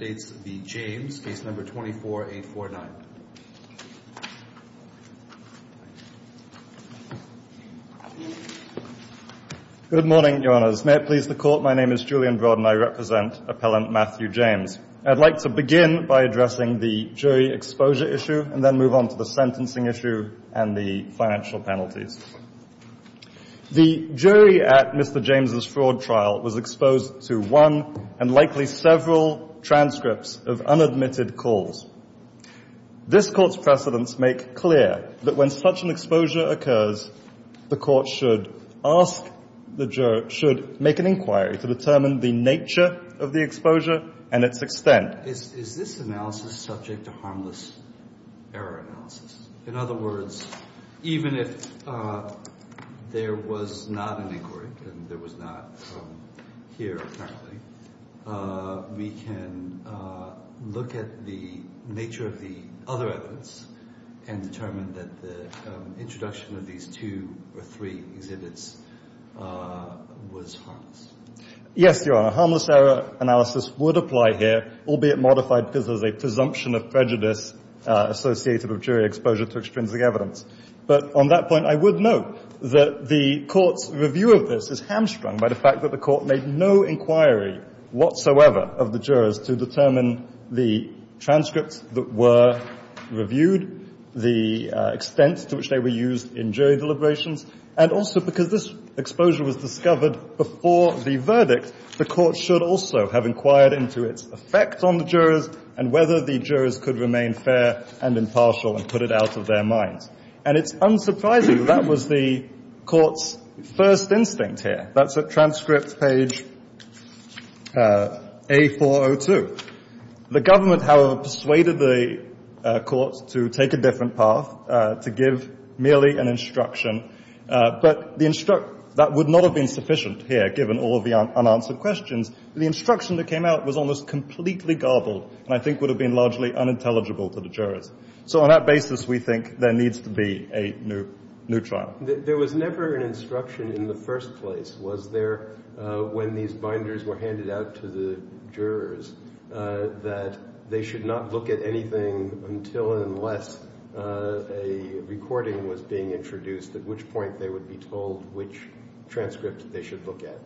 v. James, case number 24-849. Good morning, Your Honors. May it please the Court, my name is Julian Broad and I represent Appellant Matthew James. I'd like to begin by addressing the jury exposure issue and then move on to the sentencing issue and the financial penalties. The jury at Mr. James' fraud trial was exposed to one and likely several transcripts of unadmitted calls. This Court's precedents make clear that when such an exposure occurs, the Court should make an inquiry to determine the nature of the exposure and its extent. Is this analysis subject to harmless error analysis? In other words, even if there was not an inquiry, and there was not from here apparently, we can look at the nature of the other evidence and determine that the introduction of these two or three exhibits was harmless. Yes, Your Honor. Harmless error analysis would apply here, albeit modified because of a presumption of prejudice associated with jury exposure to extrinsic evidence. But on that point, I would note that the Court's review of this is handsprung by the fact that the Court made no inquiry whatsoever of the jurors to determine the transcripts that were reviewed, the extent to which they were used in jury deliberations, and also because this exposure was discovered before the verdict, the Court should also have inquired into its effects on the jurors and whether the jurors could remain fair and impartial and put it out of their minds. And it's unsurprising that was the Court's first instinct here. That's at transcript page A402. The government, however, persuaded the Court to take a different path, to give merely an instruction. But that would not have been sufficient here, given all of the unanswered questions. The instruction that came out was almost completely garbled, and I think would have been largely unintelligible for the jurors. So on that basis, we think there needs to be a new trial. There was never an instruction in the first place, was there, when these binders were handed out to the jurors, that they should not look at anything until and unless a recording was being introduced, at which point they would be told which transcript they should look at.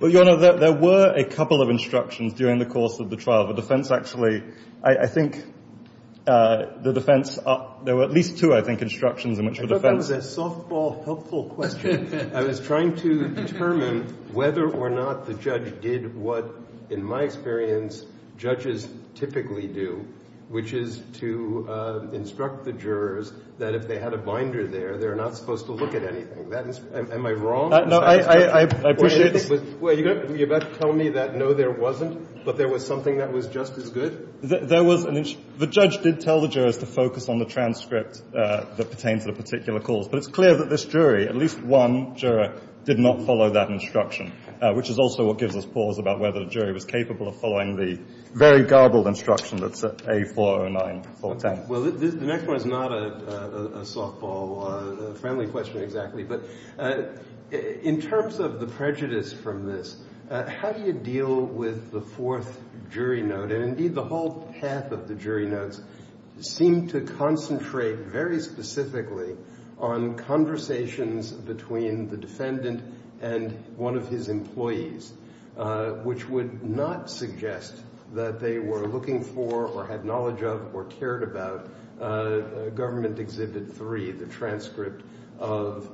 Well, Your Honor, there were a couple of instructions during the course of the trial. The defense actually, I think, the defense, there were at least two, I think, instructions in which the defense... I thought that was a softball helpful question. I was trying to determine whether or not the judge did what, in my experience, judges typically do, which is to instruct the jurors that if they had a binder there, they're not supposed to look at anything. Am I wrong? No, I appreciate it. You're about to tell me that, no, there wasn't, but there was something that was just as good? The judge did tell the jurors to focus on the transcript that pertained to the particular court. But it's clear that this jury, at least one juror, did not follow that instruction, which is also what gives us pause about whether the jury was capable of following the very garbled instruction that's set to A409. Well, the next one is not a softball, a friendly question, exactly. But in terms of the prejudice from this, how do you deal with the fourth jury note? Indeed, the whole path of the jury notes seemed to concentrate very specifically on conversations between the defendant and one of his employees, which would not suggest that they were looking for or had knowledge of or cared about Government Exhibit 3, the transcript of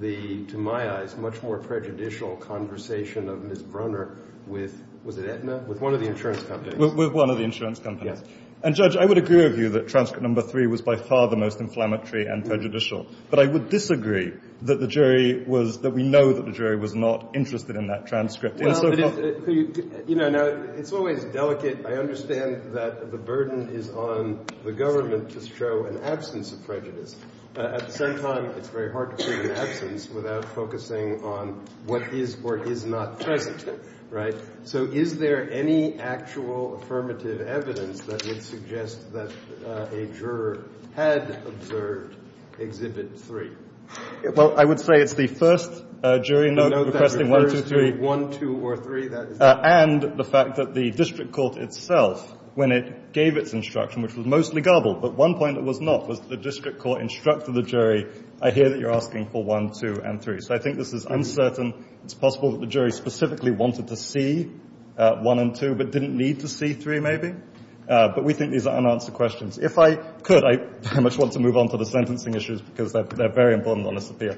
the, to my eyes, much more prejudicial conversation of Ms. Brunner with, was it Aetna? With one of the insurance companies. With one of the insurance companies. And Judge, I would agree with you that transcript number 3 was by far the most inflammatory and prejudicial. But I would disagree that the jury was, that we know that the jury was not interested in that transcript. You know, now, it's always delicate. I understand that the burden is on the government to show an absence of prejudice. At the same time, it's very hard to show an absence without focusing on what is or is not prejudiced, right? So is there any actual affirmative evidence that would suggest that a juror has observed Exhibit 3? Well, I would say it's the first jury note requesting one, two, three. One, two, or three, that is. And the fact that the district court itself, when it gave its instruction, which was mostly gullible, at one point it was not. But the district court instructed the jury, I hear that you're asking for one, two, and three. So I think this is uncertain. It's possible that the jury specifically wanted to see one and two, but didn't need to see three, maybe. But we think these are unanswered questions. If I could, I'd much want to move on to the sentencing issues, because they're very important on this appeal.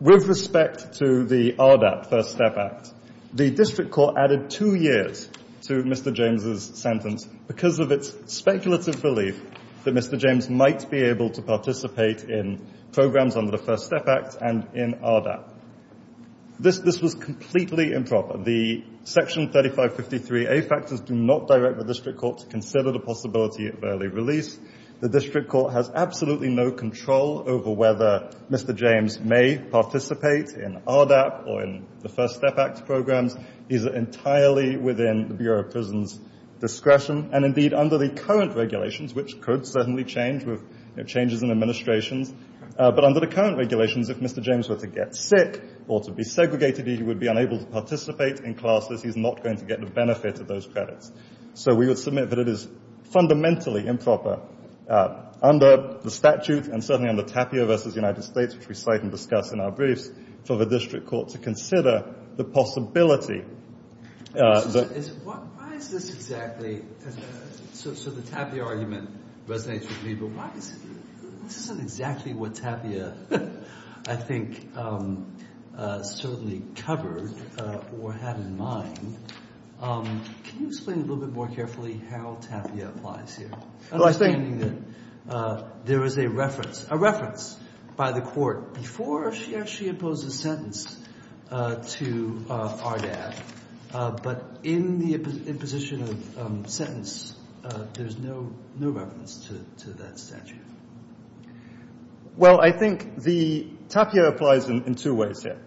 With respect to the ARDAP, First Step Act, the district court added two years to Mr. James's sentence because of its speculative belief that Mr. James might be able to participate in programs under the First Step Act and in ARDAP. This was completely improper. The Section 3553A factors do not direct the district court to consider the possibility of early release. The district court has absolutely no control over whether Mr. James may participate in ARDAP or in the First Step Act program. It is entirely within the Bureau of Prison's discretion. And indeed, under the current regulations, which could certainly change with changes in administration, but under the current regulations, if Mr. James were to get sick or to be segregated, he would be unable to participate in classes. He's not going to get the benefit of those credits. So we would submit that it is fundamentally improper under the statute, and certainly under TAPIA v. United States, which we cite in the statute in our briefs, for the district court to consider the possibility that... Why is this exactly... So the TAPIA argument, but thanks to Debra Robertson, isn't exactly what TAPIA, I think, certainly covered or had in mind. Can you explain a little bit more carefully how TAPIA applies here? I was thinking that there was a reference by the court before she actually imposed a sentence to ARDAP, but in the imposition of sentence, there's no reference to that statute. Well, I think TAPIA applies in two ways here.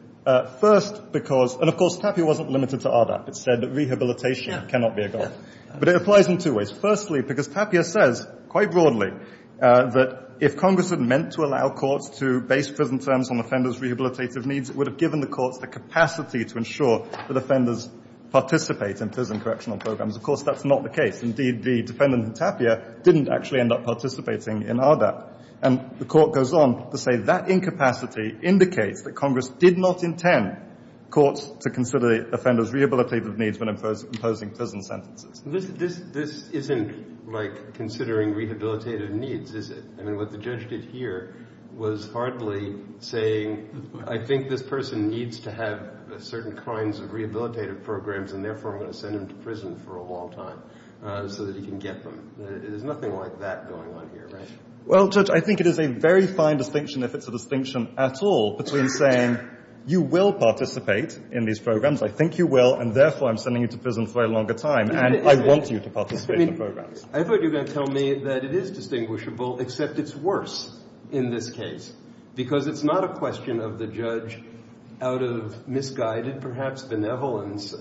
First, because... And of course, TAPIA wasn't limited to ARDAP. It said that rehabilitation cannot be a guide. But it applies in two ways. Firstly, because TAPIA says, quite broadly, that if Congress were meant to allow courts to base prison terms on offenders' rehabilitative needs, it would have given the court the capacity to ensure that offenders participate in prison correctional programs. Of course, that's not the case. Indeed, the defendant in TAPIA didn't actually end up participating in ARDAP. And the court goes on to say that incapacity indicates that Congress did not intend courts to consider offenders' rehabilitative needs when imposing prison sentences. This isn't like considering rehabilitative needs, is it? I mean, what the judge did here was partly saying, I think this person needs to have certain kinds of rehabilitative programs, and therefore I'm going to send him to prison for a long time so that he can get them. There's nothing like that going on here, right? Well, Judge, I think it is a very fine distinction, if it's a distinction at all, between saying, you will participate in these programs, I think you will, and therefore I'm sending you to prison for a longer time, and I want you to participate in the programs. I thought you were going to tell me that it is distinguishable, except it's worse in this case, because it's not a question of the judge, out of misguided, perhaps benevolence,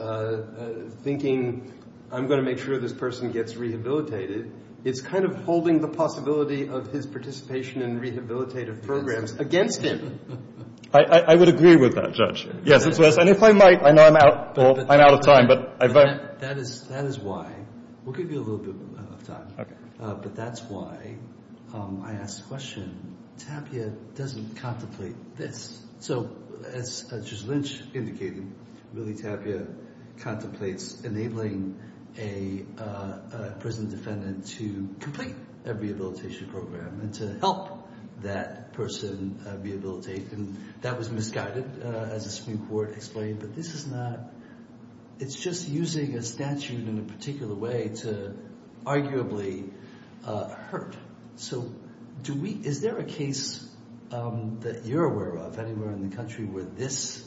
thinking, I'm going to make sure this person gets rehabilitated. It's kind of holding the possibility of his participation in rehabilitative programs against him. I would agree with that, Judge. And if I might, I know I'm out of time. That is why. We'll give you a little bit of time. But that's why I ask the question, Tapia doesn't contemplate this. So, as Judge Lynch indicated, really Tapia contemplates enabling a prison defendant to complete a rehabilitation program and to help that person rehabilitate, and that was misguided, as the Supreme Court explained, but this is not, it's just using a statute in a particular way to arguably hurt. So, is there a case that you're aware of, anywhere in the country, where this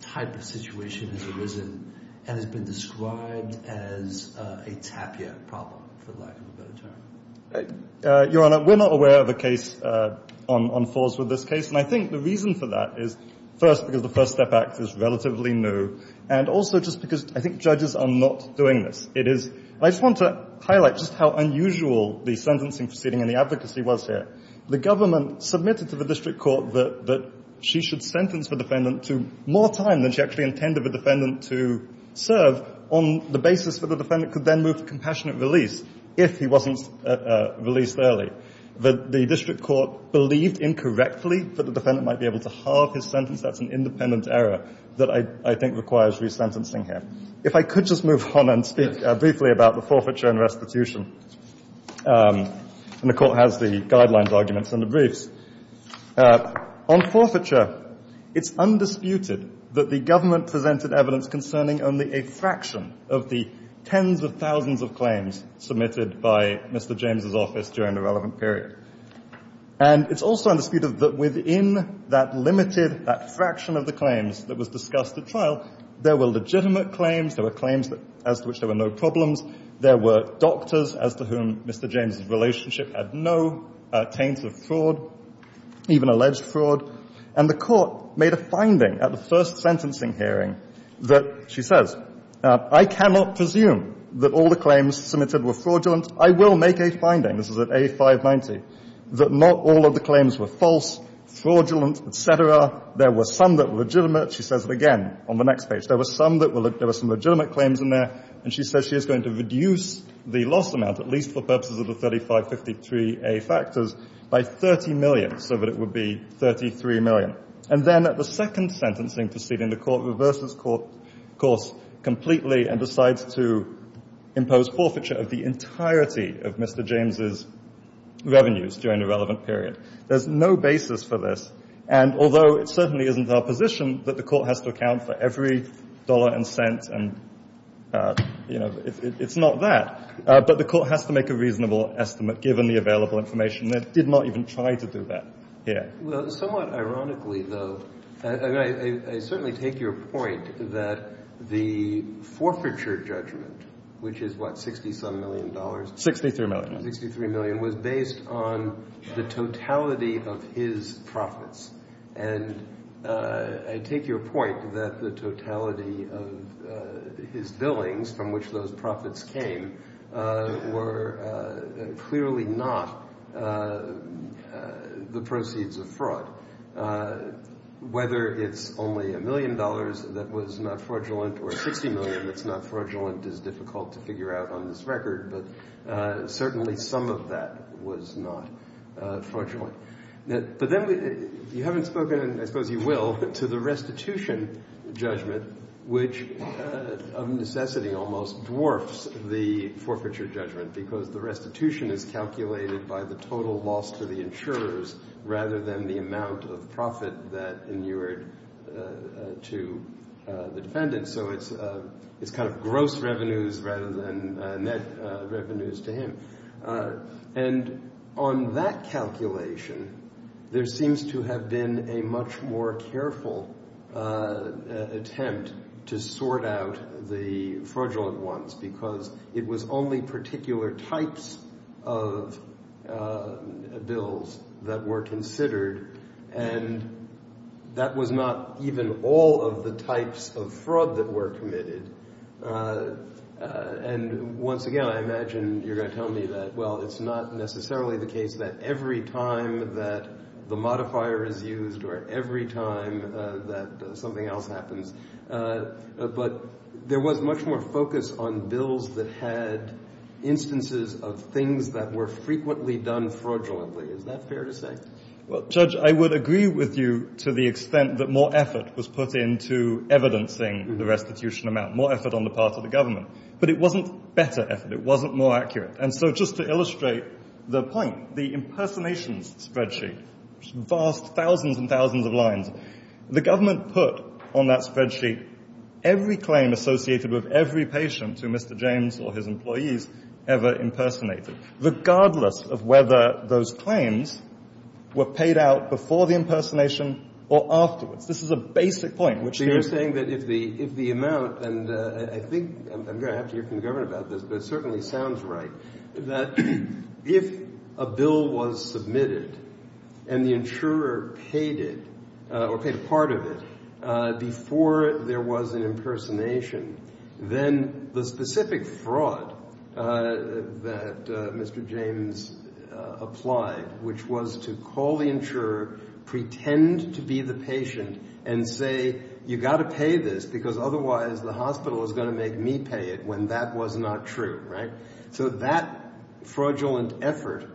type of situation has arisen and has been described as a Tapia problem, for lack of a better term? Your Honor, we're not aware of a case on force with this case, and I think the reason for that is, first, because the First Step Act is relatively new, and also just because I think judges are not doing this. I just want to highlight just how unusual the sentencing proceeding and the advocacy was there. The government submitted to the district court that she should sentence the defendant to more time than she actually intended the defendant to serve, on the basis that the defendant could then move to compassionate release, if he wasn't released early. But the district court believed, incorrectly, that the defendant might be able to halve his sentence. That's an independent error that I think requires resentencing here. If I could just move on and speak briefly about the forfeiture and restitution. And the court has the guidelines arguments in the briefs. On forfeiture, it's undisputed that the government presented evidence concerning only a fraction of the tens of thousands of claims submitted by Mr. James' office during the relevant period. And it's also undisputed that within that limited, that fraction of the claims that was discussed at trial, there were legitimate claims, there were claims as to which there were no problems, there were doctors as to whom Mr. James' relationship had no taint of fraud, even alleged fraud. And the court made a finding at the first sentencing hearing that, she says, I cannot presume that all the claims submitted were fraudulent. I will make a finding, this is at A590, that not all of the claims were false, fraudulent, etc. There were some that were legitimate, she says again, on the next page, there were some that were, there were some legitimate claims in there, and she says she is going to reduce the lost amount, at least for purposes of the 3553A factors, by 30 million, so that it would be 33 million. And then at the second sentencing proceeding, the court reverses course completely and decides to impose forfeiture of the entirety of Mr. James' revenues during the relevant period. There's no basis for this, and although it certainly isn't our position that the court has to account for every dollar and cent and, you know, it's not that, but the court has to make a reasonable estimate, given the available information. They did not even try to do that here. Well, somewhat ironically though, and I certainly take your point, that the forfeiture judgment, which is what, 63 million dollars? 63 million. 63 million was based on the totality of his profits, and I take your point that the totality of his billings, from which those profits came, were clearly not the proceeds of fraud. Whether it's only a million dollars that was not fraudulent, or 60 million that's not fraudulent is difficult to figure out on this record, but certainly some of that was not fraudulent. But then you haven't spoken, and I suppose you will, to the restitution judgment, which of necessity almost dwarfs the forfeiture judgment, because the restitution is calculated by the total loss to the insurers, rather than the amount of profit that inured to the defendant. So it's kind of gross revenues rather than net revenues to him. And on that calculation, there seems to have been a much more careful attempt to sort out the fraudulent ones, because it was only particular types of bills that were considered, and that was not even all of the types of fraud that were committed. And once again, I imagine you're going to tell me that, well, it's not necessarily the case that every time that the modifier is used, or every time that something else happens, but there was much more focus on bills that had instances of things that were frequently done fraudulently. Is that fair to say? Well, Judge, I would agree with you to the extent that more effort was put into evidencing the restitution amount, more effort on the part of the government. But it wasn't better effort, it wasn't more accurate. And so just to illustrate the point, the impersonation spreadsheet, which is vast, thousands and thousands of lines, the government put on that spreadsheet every claim associated with every patient who Mr. James or his employees ever impersonated, regardless of whether those claims were paid out before the impersonation or afterwards. This is a basic point. So you're saying that if the amount, and I think, I'm going to have to hear from the government about this, but it certainly sounds right, that if a bill was submitted and the insurer paid a part of it before there was an impersonation, then the specific fraud that Mr. James applied, which was to call the insurer, pretend to be the patient, and say you've got to pay this because otherwise the hospital is going to make me pay it when that was not true, right? So that fraudulent effort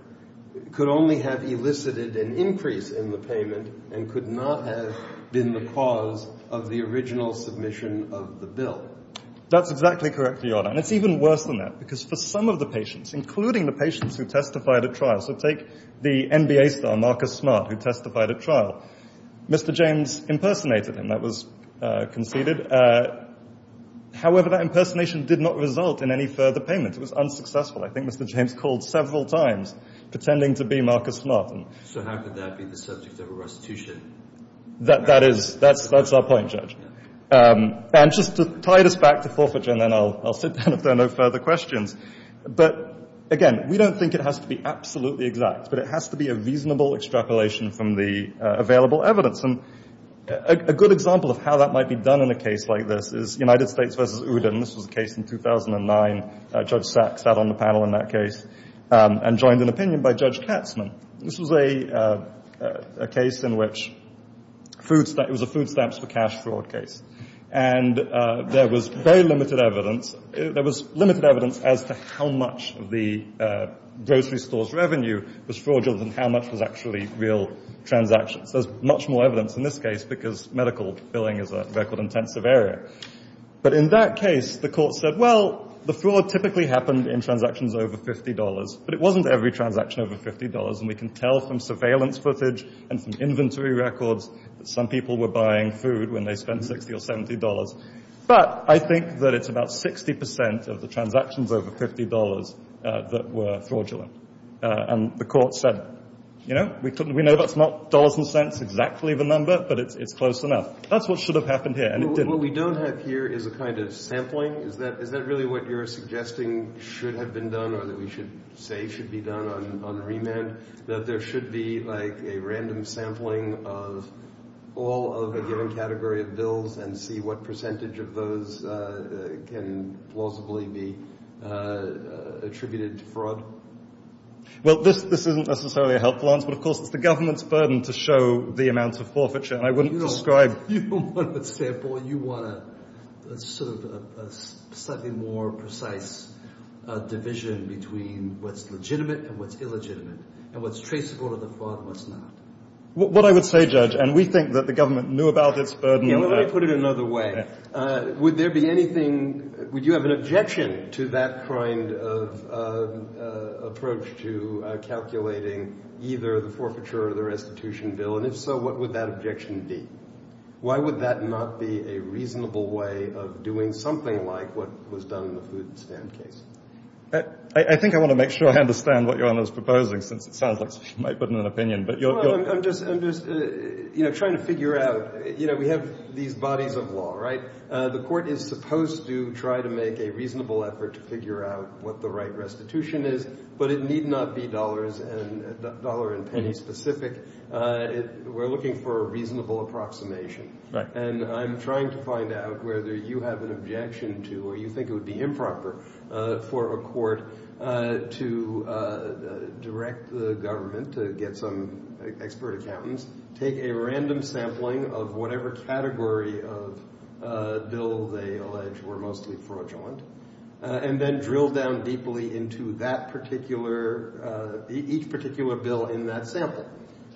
could only have elicited an increase in the payment and could not have been the cause of the original submission of the bill. That's exactly correct, Your Honour, and it's even worse than that because for some of the patients, including the patients who testified at trial, so take the MBA star, Marcus Smart, who testified at trial. Mr. James impersonated him, that was conceded. However, that impersonation did not result in any further payment. It was unsuccessful. I think Mr. James called several times pretending to be Marcus Smart. So how could that be the subject of a restitution? That's our point, Judge. And just to tie this back to forfeiture, and then I'll sit down if there are no further questions, but again, we don't think it has to be absolutely exact, but it has to be a reasonable extrapolation from the available evidence. A good example of how that might be done in a case like this is United States v. Uden. This was a case in 2009. Judge Stack sat on the panel in that case and joined an opinion by Judge Katzman. This was a case in which it was a food stamps for cash fraud case. And there was very limited evidence. There was limited evidence as to how much the grocery store's revenue was fraudulent and how much was actually real transactions. There's much more evidence in this case because medical billing is a record intensive area. But in that case, the court said, well, the fraud typically happened in transactions over $50, but it wasn't every transaction over $50. And we can tell from surveillance footage and from inventory records that some people were buying food when they spent $60 or $70. But I think that it's about 60% of the transactions over $50 that were fraudulent. And the court said, you know, we know that's not dollars and cents exactly the number, but it's close enough. That's what should have happened here. What we don't have here is a kind of sampling. Is that really what you're suggesting should have been done or that we should say should be done on remand, that there should be like a random sampling of all of a given category of bills and see what percentage of those can plausibly be attributed to fraud? Well, this isn't necessarily a helpful answer, but of course it's the government's burden to show the amount of forfeiture. You want a slightly more precise division between what's legitimate and what's illegitimate and what's traceable to the fraud and what's not. What I would say, Judge, and we think that the government knew about its burden. Let me put it another way. Would you have an objection to that kind of approach to calculating either the forfeiture or the restitution bill? And if so, what would that objection be? Why would that not be a reasonable way of doing something like what was done in the food and spam case? I think I want to make sure I understand what you're proposing. It sounds like you might put in an opinion. I'm just trying to figure out. We have these bodies of law, right? The court is supposed to try to make a reasonable effort to figure out what the right restitution is, but it need not be dollar and penny specific. We're looking for a reasonable approximation. And I'm trying to find out whether you have an objection to or you think it would be improper for a court to direct the government to get some expert accountants to take a random sampling of whatever category of bill they allege were mostly fraudulent and then drill down deeply into each particular bill in that sample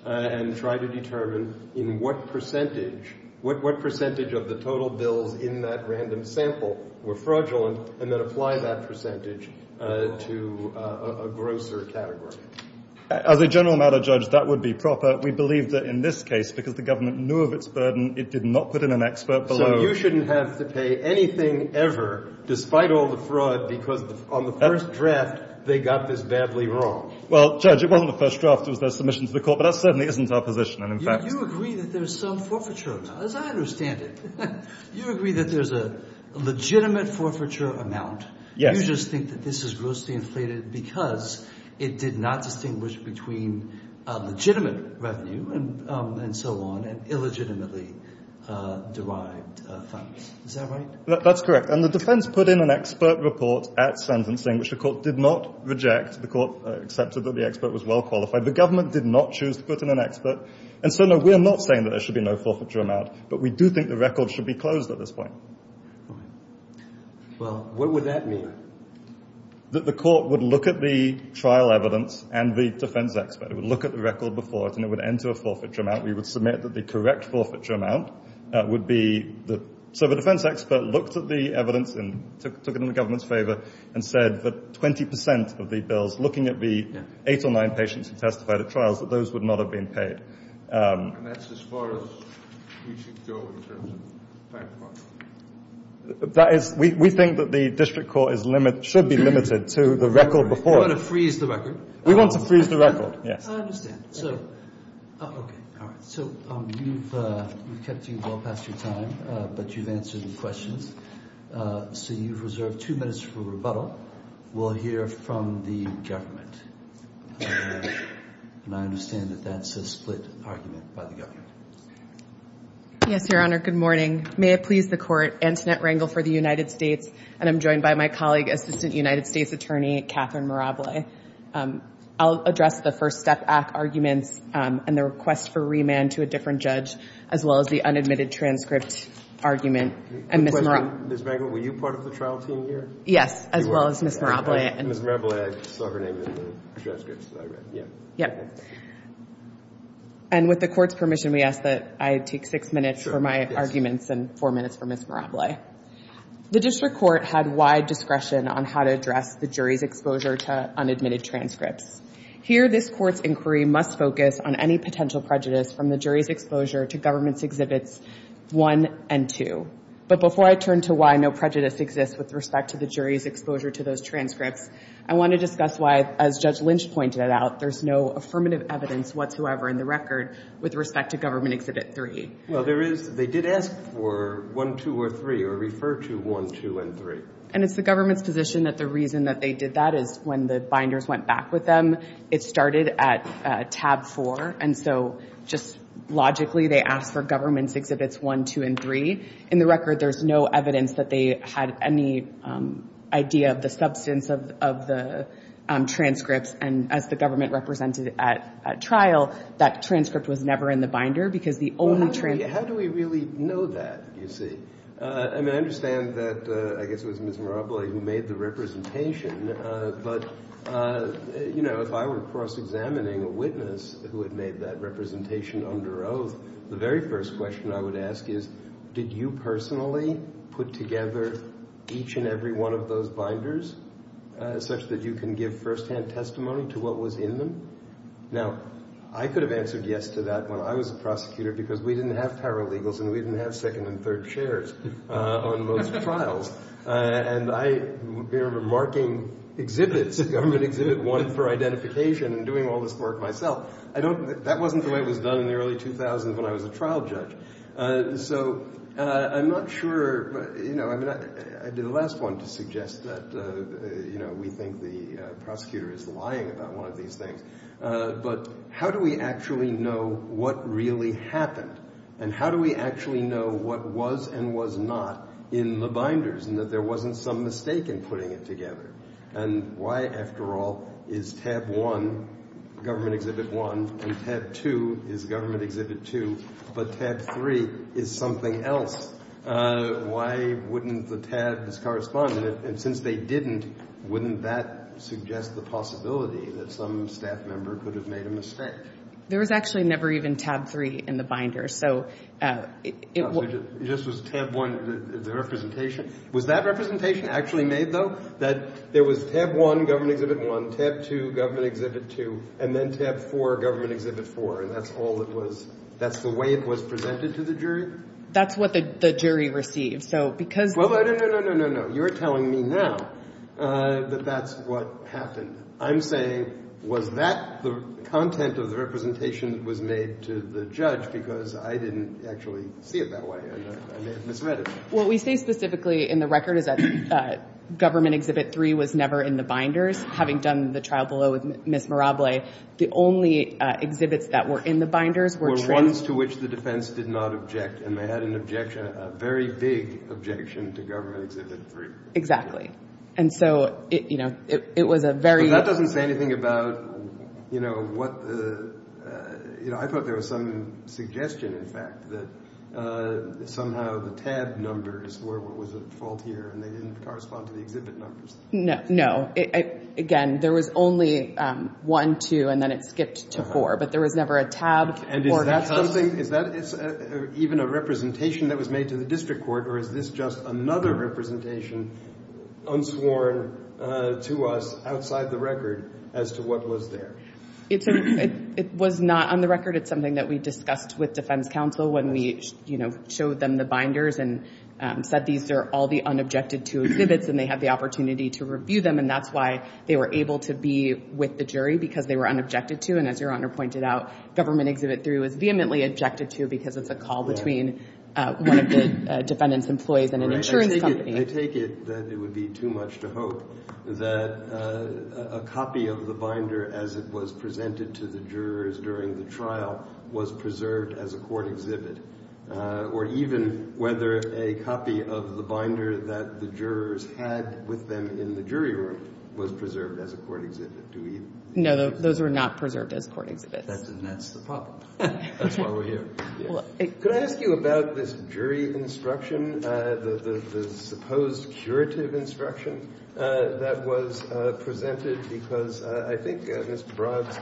and try to determine what percentage of the total bills in that random sample were fraudulent and then apply that percentage to a grosser category. As a general matter, Judge, that would be proper. We believe that in this case, because the government knew of its burden, it did not put in an expert below. You shouldn't have to pay anything ever, despite all the fraud, because on the first draft, they got this badly wrong. Well, Judge, it wasn't the first draft. It was the first submission to the court. But that certainly isn't our position. You agree that there's some forfeiture. As I understand it, you agree that there's a legitimate forfeiture amount. You just think that this is grossly inflated because it did not distinguish between legitimate revenue and so on and illegitimately derived funds. Is that right? That's correct. And the defense put in an expert report at sentencing, which the court did not reject. The court accepted that the expert was well qualified. The government did not choose to put in an expert. And so, no, we're not saying that there should be no forfeiture amount, but we do think the record should be closed at this point. Right. Well, what would that mean? That the court would look at the trial evidence and the defense expert. It would look at the record before it, and it would enter a forfeiture amount. We would submit that the correct forfeiture amount would be the – so the defense expert looked at the evidence and took it in the government's favor and said that 20% of the bills, looking at the eight or nine patients who testified at trials, that those would not have been paid. And that's as far as we should go in terms of the fact of the matter? That is – we think that the district court should be limited to the record before. You want to freeze the record? We want to freeze the record, yes. I understand. So you've kept you well past your time, but you've answered the question. So you've reserved two minutes for rebuttal. We'll hear from the government. And I understand that that's a split argument by the government. Yes, Your Honor. Good morning. May it please the Court, Antoinette Rangel for the United States, and I'm joined by my colleague, Assistant United States Attorney, Catherine Mirable. I'll address the First Step Act argument and the request for remand to a different judge, as well as the unadmitted transcripts argument. Ms. Rangel, were you part of the trial team here? Yes, as well as Ms. Mirable. Ms. Mirable, I saw her name in the transcripts. Yes. And with the Court's permission, we ask that I take six minutes for my arguments and four minutes for Ms. Mirable. The District Court had wide discretion on how to address the jury's exposure to unadmitted transcripts. Here, this Court's inquiry must focus on any potential prejudice from the jury's exposure to Government Exhibits 1 and 2. But before I turn to why no prejudice exists with respect to the jury's exposure to those transcripts, I want to discuss why, as Judge Lynch pointed out, there's no affirmative evidence whatsoever in the record with respect to Government Exhibit 3. Well, there is. They did ask for 1, 2, or 3, or refer to 1, 2, and 3. And it's the Government's position that the reason that they did that is when the binders went back with them, it started at Tab 4. And so, just logically, they asked for Government Exhibits 1, 2, and 3. In the record, there's no evidence that they had any idea of the substance of the transcripts. And as the Government represented at trial, that transcript was never in the binder because the only transcript... How do we really know that, you see? I mean, I understand that, I guess it was Ms. Naropoli who made the representation, but, you know, if I were cross-examining a witness who had made that representation under oath, the very first question I would ask is, did you personally put together each and every one of those binders such that you can give firsthand testimony to what was in them? Now, I could have answered yes to that when I was a prosecutor because we didn't have paralegals and we didn't have second and third shares on most trials. And I remember marking Exhibits, Government Exhibit 1, for identification and doing all this work myself. That wasn't the way it was done in the early 2000s when I was a trial judge. So, I'm not sure, you know, I mean, I did the last one to suggest that, you know, we think the prosecutor is lying about one of these things. But how do we actually know what really happened? And how do we actually know what was and was not in the binders and that there wasn't some mistake in putting it together? And why, after all, is Tab 1, Government Exhibit 1, and Tab 2 is Government Exhibit 2, but Tab 3 is something else? Why wouldn't the Tabs correspond? And since they didn't, wouldn't that suggest the possibility that some staff member could have made a mistake? There was actually never even Tab 3 in the binders. This was Tab 1, the representation. Was that representation actually made, though? That there was Tab 1, Government Exhibit 1, Tab 2, Government Exhibit 2, and then Tab 4, Government Exhibit 4, and that's all it was? That's the way it was presented to the jury? That's what the jury received. Well, no, no, no, no, no, no. You're telling me now that that's what happened. I'm saying, was that the content of the representation that was made to the judge because I didn't actually see it that way and I may have misread it. What we say specifically in the record is that Government Exhibit 3 was never in the binders. Having done the trial below with Ms. Mirable, the only exhibits that were in the binders were… Those to which the defense did not object, and they had an objection, a very big objection to Government Exhibit 3. And so, you know, it was a very… But that doesn't say anything about, you know, what the… I thought there was some suggestion, in fact, that somehow the Tab number is where it was at 12 here and it didn't correspond to the exhibit numbers. No, no. Again, there was only 1, 2, and then it skipped to 4, but there was never a Tab 4. Is that something… Is that even a representation that was made to the district court or is this just another representation unsworn to us outside the record as to what was there? It was not on the record. It's something that we discussed with defense counsel when we, you know, showed them the binders and said these are all the unobjected-to exhibits and they had the opportunity to review them, and that's why they were able to be with the jury because they were unobjected to. And as Your Honor pointed out, Government Exhibit 3 was vehemently objected to because of the call between one of the defendant's employees and an insurance company. I take it that it would be too much to hope that a copy of the binder as it was presented to the jurors during the trial was preserved as a court exhibit or even whether a copy of the binder that the jurors had with them in the jury room was preserved as a court exhibit. No, those were not preserved as court exhibits. Then that's the problem. That's why we're here. Could I ask you about this jury instruction, the supposed curative instruction that was presented because I think Mr. Brock's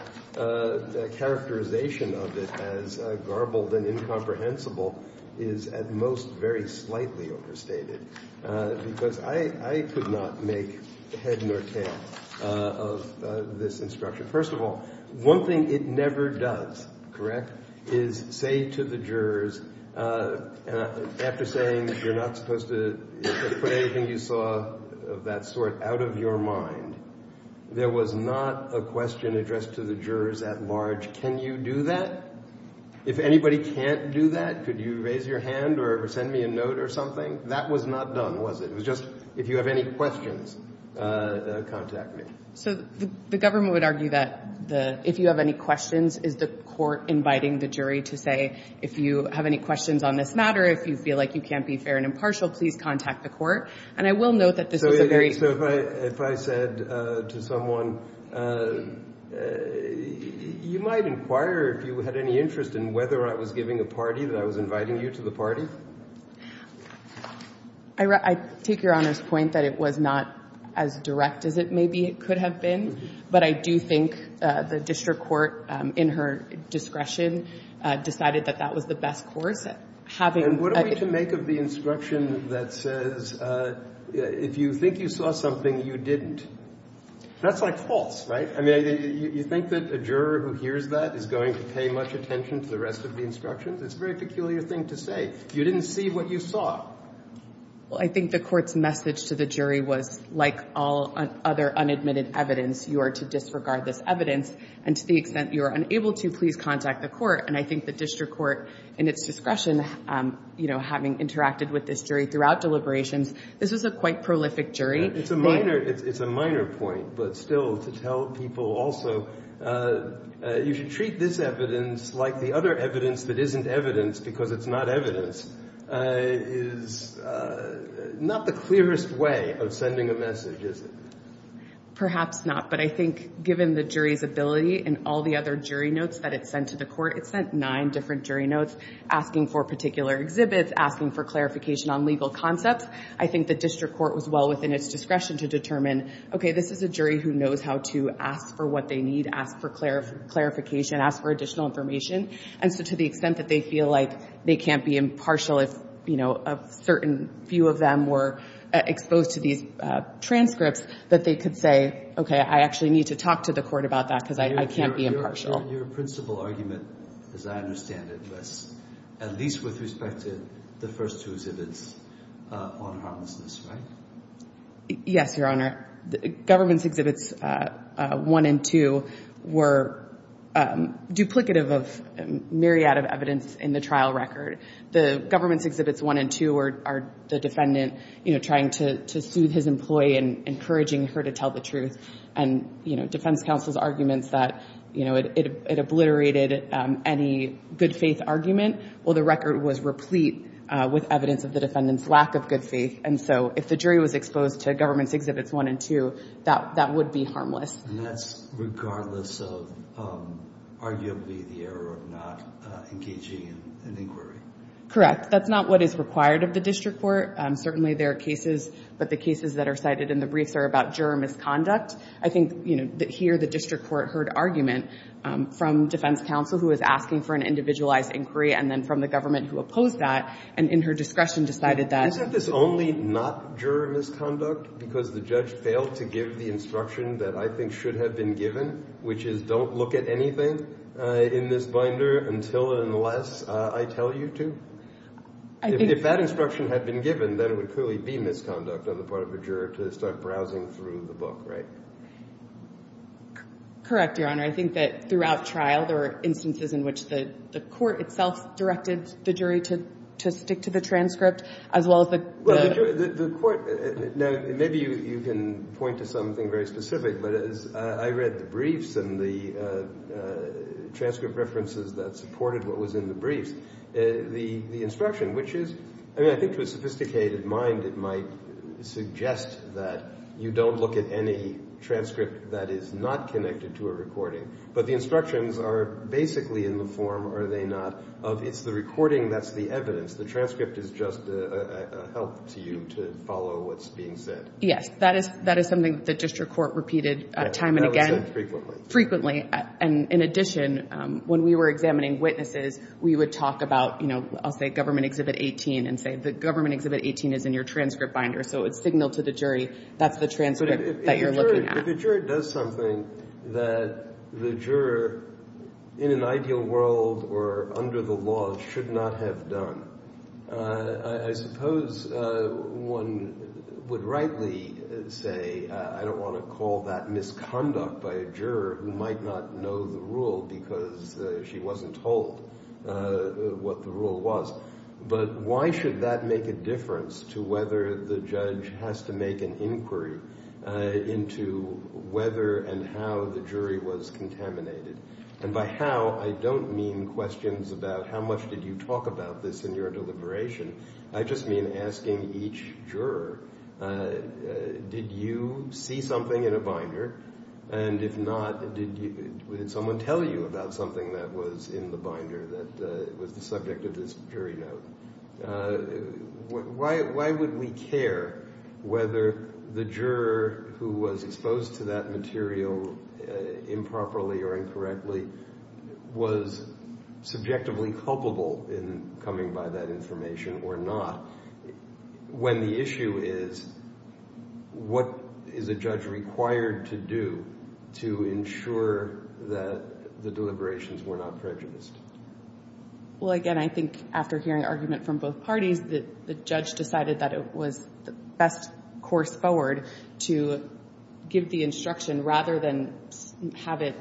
characterization of this as garbled and incomprehensible is at most very slightly overstated because I could not make head nor tail of this instruction. First of all, one thing it never does, correct, is say to the jurors, after saying that you're not supposed to put anything you saw of that sort out of your mind, there was not a question addressed to the jurors at large, can you do that? If anybody can't do that, could you raise your hand or send me a note or something? That was not done, was it? It was just if you have any questions, contact me. So the government would argue that if you have any questions, is the court inviting the jury to say if you have any questions on this matter, if you feel like you can't be fair and impartial, please contact the court. And I will note that this is a very So if I said to someone, you might inquire if you had any interest in whether I was giving a party, that I was inviting you to the party? I take Your Honor's point that it was not as direct as it maybe could have been, but I do think the district court, in her discretion, decided that that was the best court. And what do we make of the instruction that says, if you think you saw something, you didn't? That's like false, right? I mean, you think that a juror who hears that is going to pay much attention to the rest of the instruction? That's a very peculiar thing to say. You didn't see what you saw. Well, I think the court's message to the jury was, like all other unadmitted evidence, you are to disregard this evidence, and to the extent you are unable to, please contact the court. And I think the district court, in its discretion, having interacted with this jury throughout deliberations, this is a quite prolific jury. It's a minor point, but still to tell people also, you should treat this evidence like the other evidence that isn't evidence because it's not evidence, is not the clearest way of sending a message, is it? Perhaps not, but I think given the jury's ability and all the other jury notes that it sent to the court, it sent nine different jury notes asking for particular exhibits, asking for clarification on legal concepts. I think the district court was well within its discretion to determine, okay, this is a jury who knows how to ask for what they need, ask for clarification, ask for additional information. And so to the extent that they feel like they can't be impartial if a certain few of them were exposed to these transcripts, that they could say, okay, I actually need to talk to the court about that because I can't be impartial. Your principal argument, as I understand it, was at least with respect to the first two exhibits on homelessness, right? Yes, Your Honor. Governments Exhibits 1 and 2 were duplicative of a myriad of evidence in the trial record. The Governments Exhibits 1 and 2 are the defendant trying to sue his employee and encouraging her to tell the truth, and defense counsel's argument that it obliterated any good faith argument. Well, the record was replete with evidence of the defendant's lack of good faith. And so if the jury was exposed to Governments Exhibits 1 and 2, that would be harmless. And that's regardless of arguably the error of not engaging in an inquiry. Correct. That's not what is required of the district court. Certainly there are cases, but the cases that are cited in the briefs are about juror misconduct. I think here the district court heard argument from defense counsel who was asking for an individualized inquiry and then from the government who opposed that and in her discretion decided that. Isn't this only not juror misconduct? Because the judge failed to give the instruction that I think should have been given, which is don't look at anything in this binder until and unless I tell you to? If that instruction had been given, then it would clearly be misconduct on the part of a juror to start browsing through the book, right? Correct, Your Honor. I think that throughout trial there were instances in which the court itself directed the jury to stick to the transcript, as well as the court. Maybe you can point to something very specific, but I read the briefs and the transcript references that supported what was in the brief. The instruction, which is, I think to a sophisticated mind, it might suggest that you don't look at any transcript that is not connected to a recording, but the instructions are basically in the form, are they not, of it's the recording that's the evidence. The transcript is just a help to you to follow what's being said. Yes, that is something that the district court repeated time and again. That was done frequently. Frequently, and in addition, when we were examining witnesses, we would talk about, I'll say government exhibit 18, and say the government exhibit 18 is in your transcript binder, so it's a signal to the jury that's the transcript that you're looking at. The jury does something that the juror in an ideal world or under the law should not have done. I suppose one would rightly say, I don't want to call that misconduct by a juror who might not know the rule because she wasn't told what the rule was, but why should that make a difference to whether the judge has to make an inquiry into whether and how the jury was contaminated? And by how, I don't mean questions about how much did you talk about this in your deliberation. I just mean asking each juror, did you see something in a binder? And if not, did someone tell you about something that was in the binder that was the subject of this jury note? Why would we care whether the juror who was exposed to that material improperly or incorrectly was subjectively culpable in coming by that information or not, when the issue is what is a judge required to do to ensure that the deliberations were not prejudiced? Well, again, I think after hearing argument from both parties, the judge decided that it was the best course forward to give the instruction rather than have it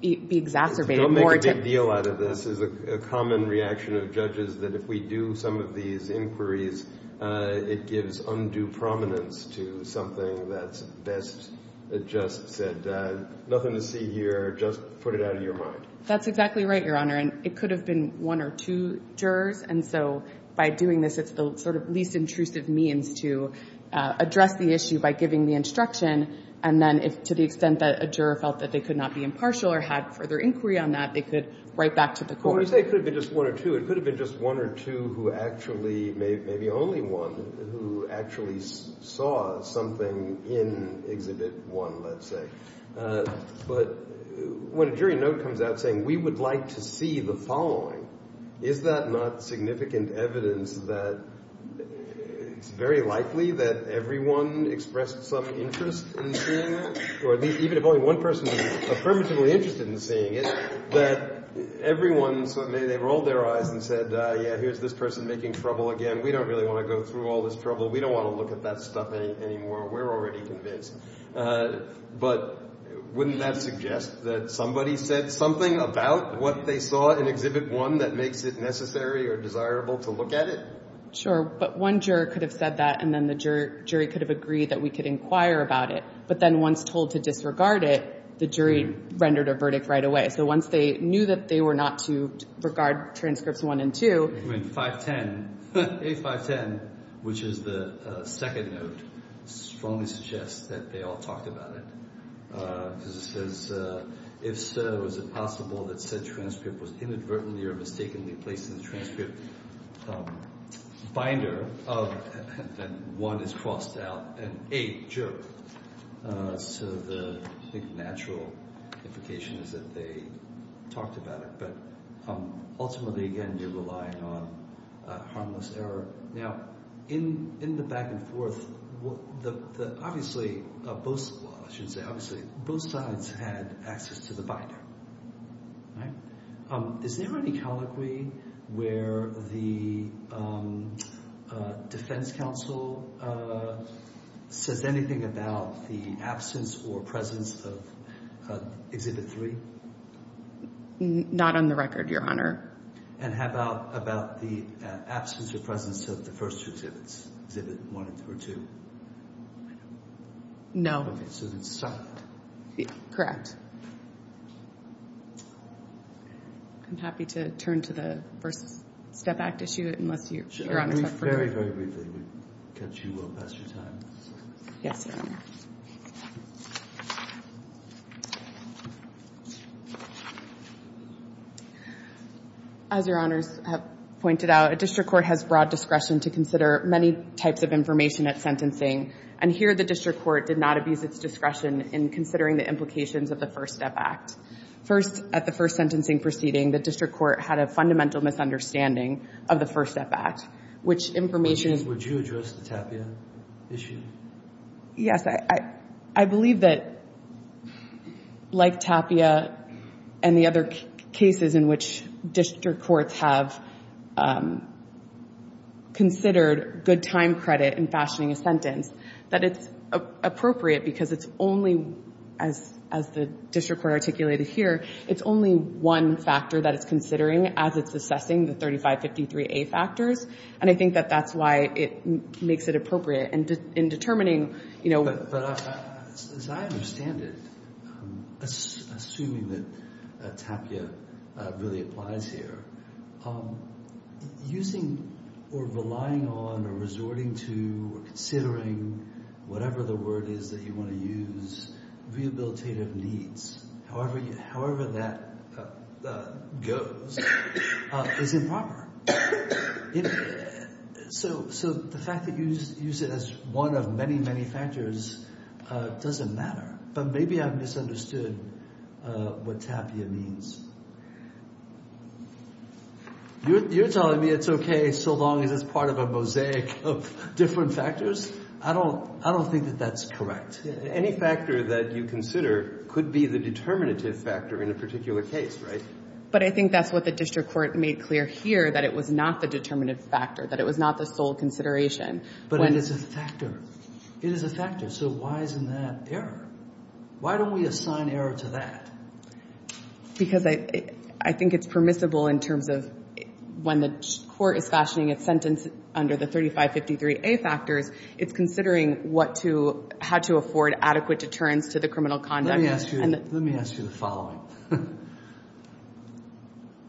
be exacerbated. Don't make a big deal out of this. It's a common reaction of judges that if we do some of these inquiries, it gives undue prominence to something that's best adjusted. Nothing to see here. Just put it out of your mind. That's exactly right, Your Honor. It could have been one or two jurors, and so by doing this it's the sort of least intrusive means to address the issue by giving the instruction, and then to the extent that a juror felt that they could not be impartial or have further inquiry on that, it could write back to the court. Well, when I say it could have been just one or two, it could have been just one or two who actually, maybe only one, who actually saw something in Exhibit 1, let's say. But when a jury note comes out saying, we would like to see the following, is that not significant evidence that it's very likely that everyone expressed some interest in seeing it, or at least even if only one person is affirmatively interested in seeing it, that everyone, so they rolled their eyes and said, yeah, here's this person making trouble again. We don't really want to go through all this trouble. We don't want to look at that stuff anymore. We're already convinced. But wouldn't that suggest that somebody said something about what they saw in Exhibit 1 that makes it necessary or desirable to look at it? Sure, but one juror could have said that, and then the jury could have agreed that we could inquire about it. But then once told to disregard it, the jury rendered a verdict right away. So once they knew that they were not to regard transcripts 1 and 2. I mean, 510, A510, which is the second note, strongly suggests that they all talked about it. Because it says, if so, is it possible that said transcript was inadvertently or mistakenly placed in the transcript binder, and 1 is crossed out, and 8, jerked. So the natural implications that they talked about it. But ultimately, again, they're relying on harmless error. Now, in the back and forth, obviously, well, I shouldn't say obviously, both sides had access to the binder. Is there any colloquy where the defense counsel says anything about the absence or presence of Exhibit 3? Not on the record, Your Honor. And how about the absence or presence of the first two exhibits, Exhibit 1 or 2? No. Okay, so it's silent. Yeah, correct. I'm happy to turn to the First Step Act issue, unless Your Honor has further questions. Very, very briefly, because you will pass your time. Yes, Your Honor. As Your Honor has pointed out, a district court has broad discretion to consider many types of information at sentencing. And here, the district court did not abuse its discretion in considering the implications of the First Step Act. At the first sentencing proceeding, the district court had a fundamental misunderstanding of the First Step Act, which information... Would you address the Tapia issue? Yes, I believe that, like Tapia and the other cases in which district courts have considered good time credit in fashioning a sentence, that it's appropriate because it's only, as the district court articulated here, it's only one factor that it's considering as it's assessing the 3553A factors. And I think that that's why it makes it appropriate in determining... But as I understand it, assuming that Tapia really applies here, using or relying on or resorting to or considering whatever the word is that you want to use, rehabilitative needs, however that goes, is improper. So the fact that you use it as one of many, many factors doesn't matter. But maybe I've misunderstood what Tapia means. You're telling me it's okay so long as it's part of a mosaic of different factors? I don't think that that's correct. Any factor that you consider could be the determinative factor in a particular case, right? But I think that's what the district court made clear here, that it was not the determinative factor, that it was not the sole consideration. But it is a factor. It is a factor, so why isn't that error? Why don't we assign error to that? Because I think it's permissible in terms of when the court is fashioning a sentence under the 3553A factors, it's considering how to afford adequate deterrence to the criminal conduct. Let me ask you the following.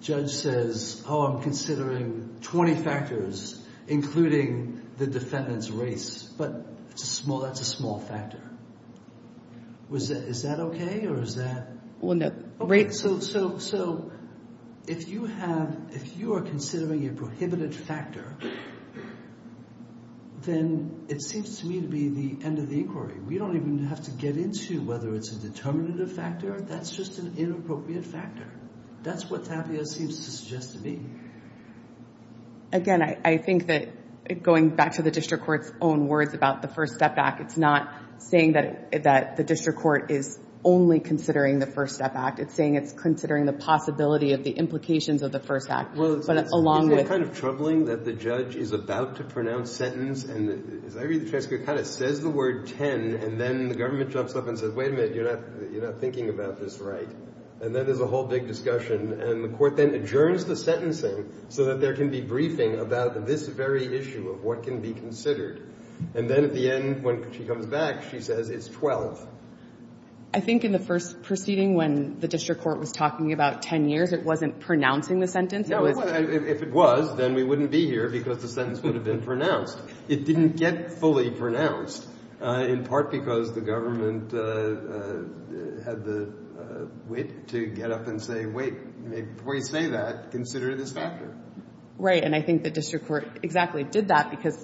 Judge says, oh, I'm considering 20 factors, including the defendant's race, but that's a small factor. Is that okay, or is that... When the rate... So, if you have... If you are considering a prohibited factor, then it seems to me to be the end of the inquiry. We don't even have to get into whether it's a determinative factor. That's just an inappropriate factor. That's what Fabio seems to suggest to me. Again, I think that going back to the district court's own words about the First Step Act, it's not saying that the district court is only considering the First Step Act. It's saying it's considering the possibility of the implications of the First Act. But along with... It's kind of troubling that the judge is about to pronounce sentence, and Larry and Jessica kind of says the word 10, and then the government jumps up and says, wait a minute, you're not thinking about this right. And then there's a whole big discussion, and the court then adjourns the sentencing so that there can be briefing about this very issue of what can be considered. And then at the end, when she comes back, she says it's 12. I think in the first proceeding, when the district court was talking about 10 years, it wasn't pronouncing the sentence. If it was, then we wouldn't be here because the sentence would have been pronounced. It didn't get fully pronounced, in part because the government had the wit to get up and say, wait, before you say that, consider this factor. Right, and I think the district court exactly did that because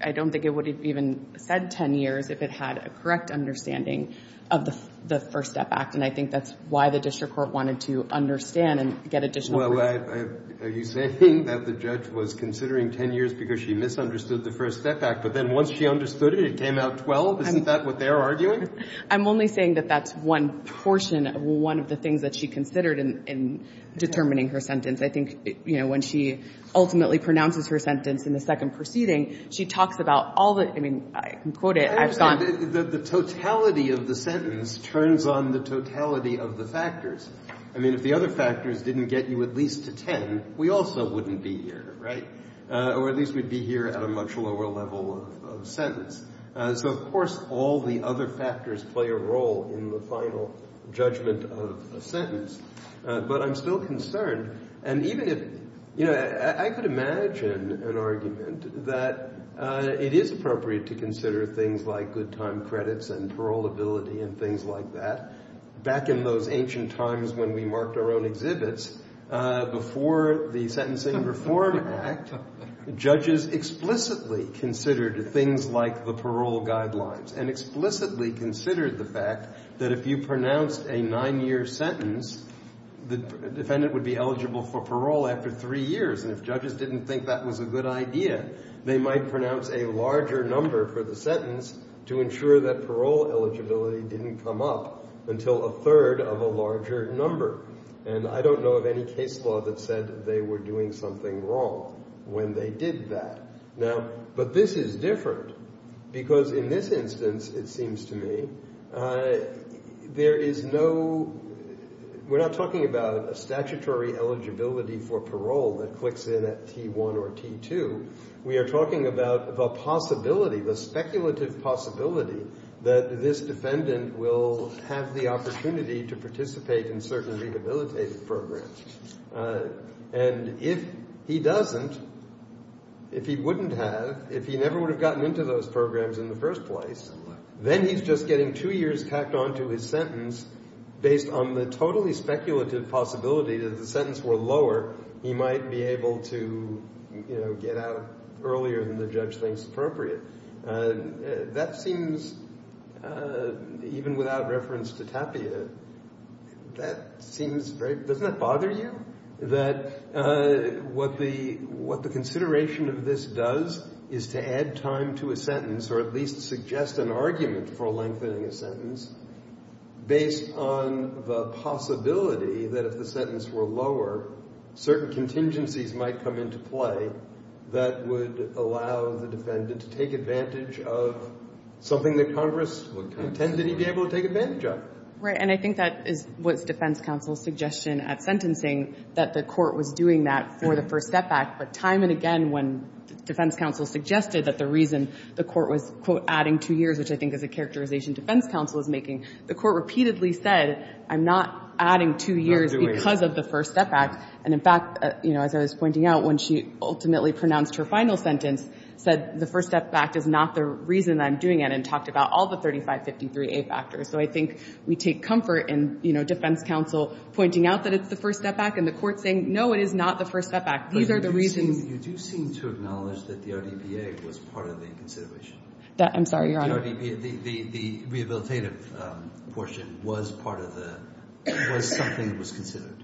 I don't think it would have even said 10 years if it had a correct understanding of the First Step Act, and I think that's why the district court wanted to understand and get additional... Well, are you saying that the judge was considering 10 years because she misunderstood the First Step Act, but then once she understood it, it came out 12? Isn't that what they're arguing? I'm only saying that that's one portion, one of the things that she considered in determining her sentence. I think when she ultimately pronounces her sentence in the second proceeding, she talks about all the... The totality of the sentence turns on the totality of the factors. I mean, if the other factors didn't get you at least to 10, we also wouldn't be here, right? Or at least we'd be here at a much lower level of sentence. So, of course, all the other factors play a role in the final judgment of a sentence, but I'm still concerned, and even if... You know, I could imagine an argument that it is appropriate to consider things like good time credits and paroleability and things like that. Back in those ancient times when we marked our own exhibits, before the Sentencing Reform Act, judges explicitly considered things like the parole guidelines and explicitly considered the fact that if you pronounced a nine-year sentence, the defendant would be eligible for parole after three years, and if judges didn't think that was a good idea, they might pronounce a larger number for the sentence to ensure that parole eligibility didn't come up until a third of a larger number. And I don't know of any case law that said they were doing something wrong when they did that. Now, but this is different, because in this instance, it seems to me, there is no... We're not talking about statutory eligibility for parole that clicks in at T1 or T2. We are talking about the possibility, the speculative possibility, that this defendant will have the opportunity to participate in certain rehabilitative programs. And if he doesn't, if he wouldn't have, if he never would have gotten into those programs in the first place, then he's just getting two years tacked onto his sentence based on the totally speculative possibility that if the sentence were lower, he might be able to, you know, get out earlier than the judge thinks appropriate. That seems... Even without reference to Tapia, that seems very... Doesn't that bother you? That what the consideration of this does is to add time to a sentence or at least suggest an argument for lengthening a sentence based on the possibility that if the sentence were lower, certain contingencies might come into play that would allow the defendant to take advantage of something that Congress would contend that he'd be able to take advantage of. Right, and I think that is what the defense counsel's suggestion at sentencing, that the court was doing that for the first setback, but time and again, when defense counsel suggested that the reason the court was, quote, adding two years, which I think is a characterization defense counsel is making, the court repeatedly said, I'm not adding two years because of the first setback. And in fact, you know, as I was pointing out, when she ultimately pronounced her final sentence, said the first setback is not the reason I'm doing it and talked about all the 3553A factors. So I think we take comfort in, you know, defense counsel pointing out that it's the first setback and the court saying, no, it is not the first setback. These are the reasons... You do seem to acknowledge that the RDBA was part of the consideration. I'm sorry, Your Honor. The rehabilitative portion was part of the... was something that was considered.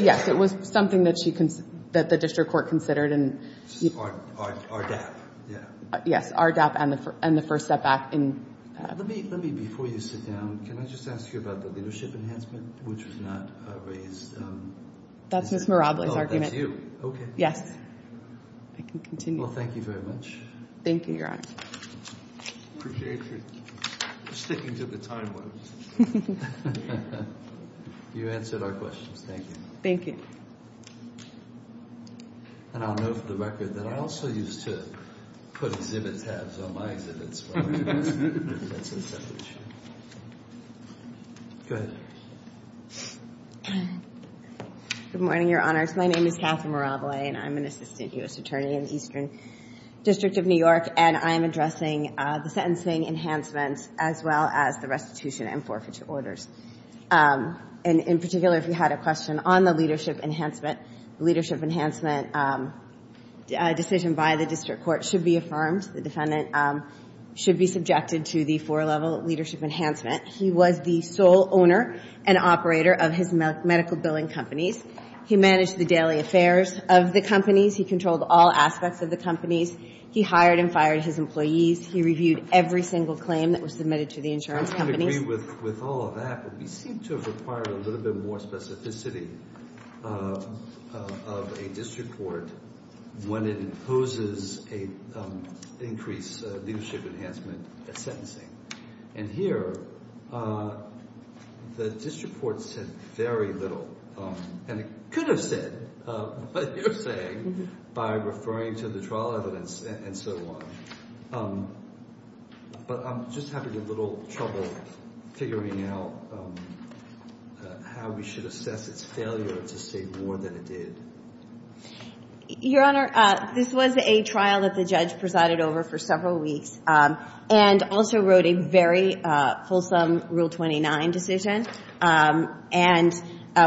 Yes, it was something that the district court considered and... RDAP, yeah. Yes, RDAP and the first setback. Let me, before you sit down, can I just ask you about the leadership enhancement, which was not raised... That's Ms. Mirabla's argument. Oh, that's you. Okay. Yes. You can continue. Well, thank you very much. Thank you, Your Honor. I appreciate you sticking to the timeline. You answered our question. Thank you. Thank you. And I'll note for the record that I also used to put divot pads on my divots. Go ahead. Good morning, Your Honor. My name is Catherine Mirabla and I'm an assistant U.S. attorney in the Eastern District of New York and I'm addressing the sentencing enhancements as well as the restitution and forfeiture orders. And in particular, if you had a question on the leadership enhancement, the leadership enhancement decision by the district court should be affirmed. The defendant should be subjected to the four-level leadership enhancement. He was the sole owner and operator of his medical billing companies. He managed the daily affairs of the companies. He controlled all aspects of the companies. He hired and fired his employees. He reviewed every single claim that was submitted to the insurance company. I agree with all of that, but we seem to require a little bit more specificity of a district court when it imposes an increased leadership enhancement sentencing. And here, the district court said very little. And it could have said, but you're saying, by referring to the trial evidence and so on. But I'm just having a little trouble figuring out how we should assess its failure to say more than it did. Your Honor, this was a trial that the judge presided over for several weeks and also wrote a very wholesome Rule 29 decision and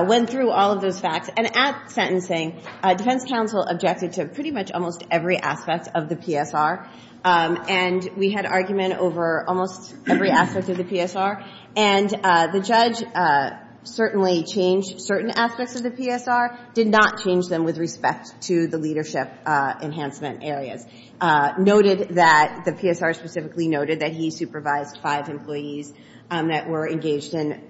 went through all of the facts. And at sentencing, defense counsel objected to pretty much almost every aspect of the PSR. And we had argument over almost every aspect of the PSR. And the judge certainly changed certain aspects of the PSR, did not change them with respect to the leadership enhancement area. Noted that the PSR specifically noted that he supervised five employees that were engaged in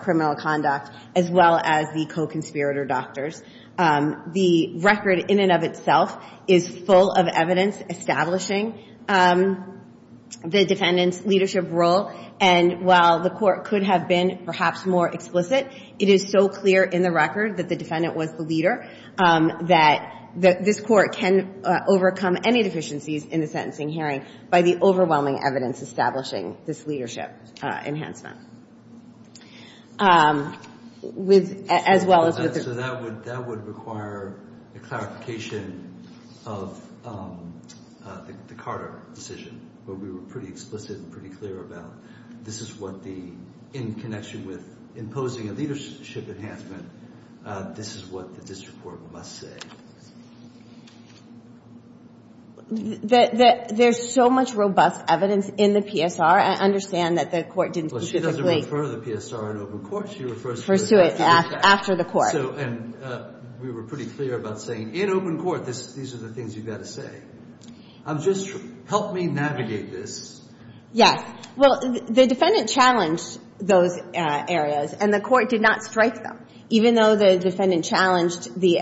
criminal conduct as well as the co-conspirator doctors. The record in and of itself is full of evidence establishing the defendant's leadership role. And while the court could have been perhaps more explicit, it is so clear in the record that the defendant was the leader that this court can overcome any deficiencies in the sentencing hearing by the overwhelming evidence establishing this leadership enhancement. So that would require the clarification of the Carter decision, where we were pretty explicit and pretty clear about this is what the, in connection with imposing a leadership enhancement, this is what the district court must say. There's so much robust evidence in the PSR. I understand that the court didn't see She doesn't refer to the PSR in open court. She refers to it after the court. And we were pretty clear about saying in open court, these are the things you've got to say. I'm just, help me navigate this. Yes. Well, the defendant challenged those areas and the court did not strike them. Even though the defendant challenged the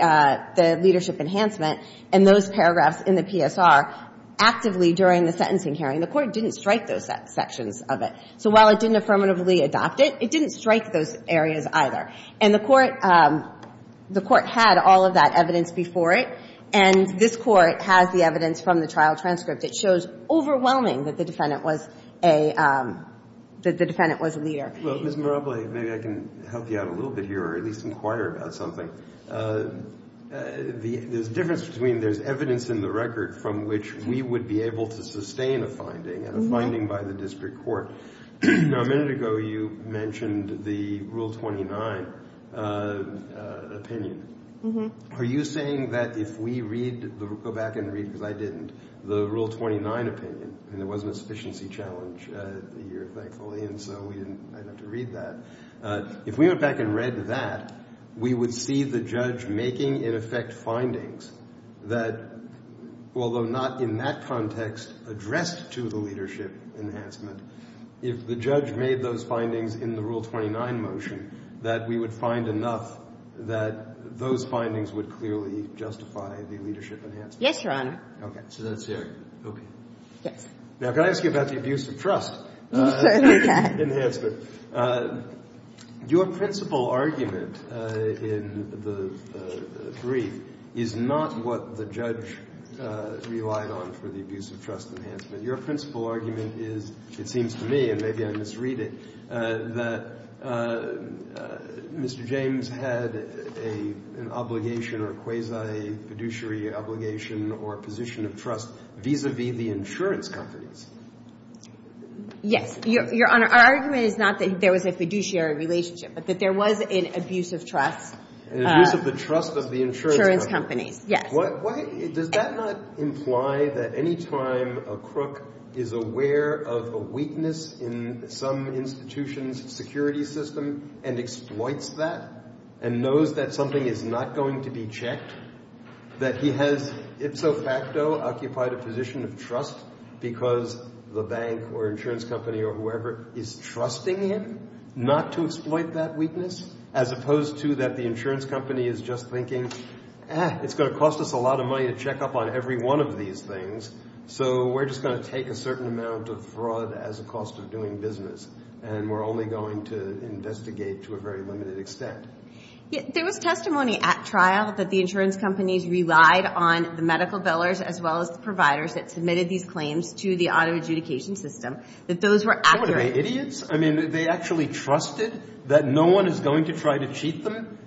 leadership enhancement and those paragraphs in the PSR actively during the sentencing hearing, the court didn't strike those sections of it. So while it didn't affirmatively adopt it, it didn't strike those areas either. And the court, the court had all of that evidence before it and this court has the evidence from the trial transcript that shows overwhelming that the defendant was a, that the defendant was a leader. Well, Ms. Maraboli, maybe I can help you out a little bit here or at least inquire about something. There's a difference between there's evidence in the record from which we would be able to sustain a finding and a finding by the district court. Now, a minute ago, you mentioned the Rule 29 opinion. Are you saying that if we read, go back and read, because I didn't, the Rule 29 opinion, and there wasn't a sufficiency challenge the year, thankfully, and so we didn't have to read that. If we went back and read that, we would see the judge making, in effect, findings that, although not in that context, addressed to the leadership enhancement, if the judge made those findings in the Rule 29 motion, that we would find enough that those findings would clearly justify the leadership enhancement. Yes, Your Honor. Okay, so that's it. Okay. Now, can I ask you about the abusive trust enhancement? Your principal argument in the brief is not what the judge relied on for the abusive trust enhancement. Your principal argument is, it seems to me, and maybe I misread it, that Mr. James had an obligation or quasi-fiduciary obligation or position of trust vis-a-vis the insurance companies. Yes, Your Honor. Our argument is not that there was a fiduciary relationship, but that there was an abusive trust insurance company. Does that not imply that any time a crook is aware of a weakness in some institution's security system and exploits that and knows that something is not going to be checked, that he has, itso facto, occupied a position of trust because the bank or insurance company or whoever is trusting him not to exploit that weakness, as opposed to that the insurance company is just thinking, ah, it's going to cost us a lot of money to check up on every one of these things, so we're just going to take a certain amount of fraud as a cost of doing business, and we're only going to investigate to a very limited extent. There was testimony at trial that the insurance companies relied on the medical billers as well as the providers that submitted these claims to the auto adjudication system that those were accurate. What are they, idiots? I mean, they actually trusted that no one is going to try to cheat them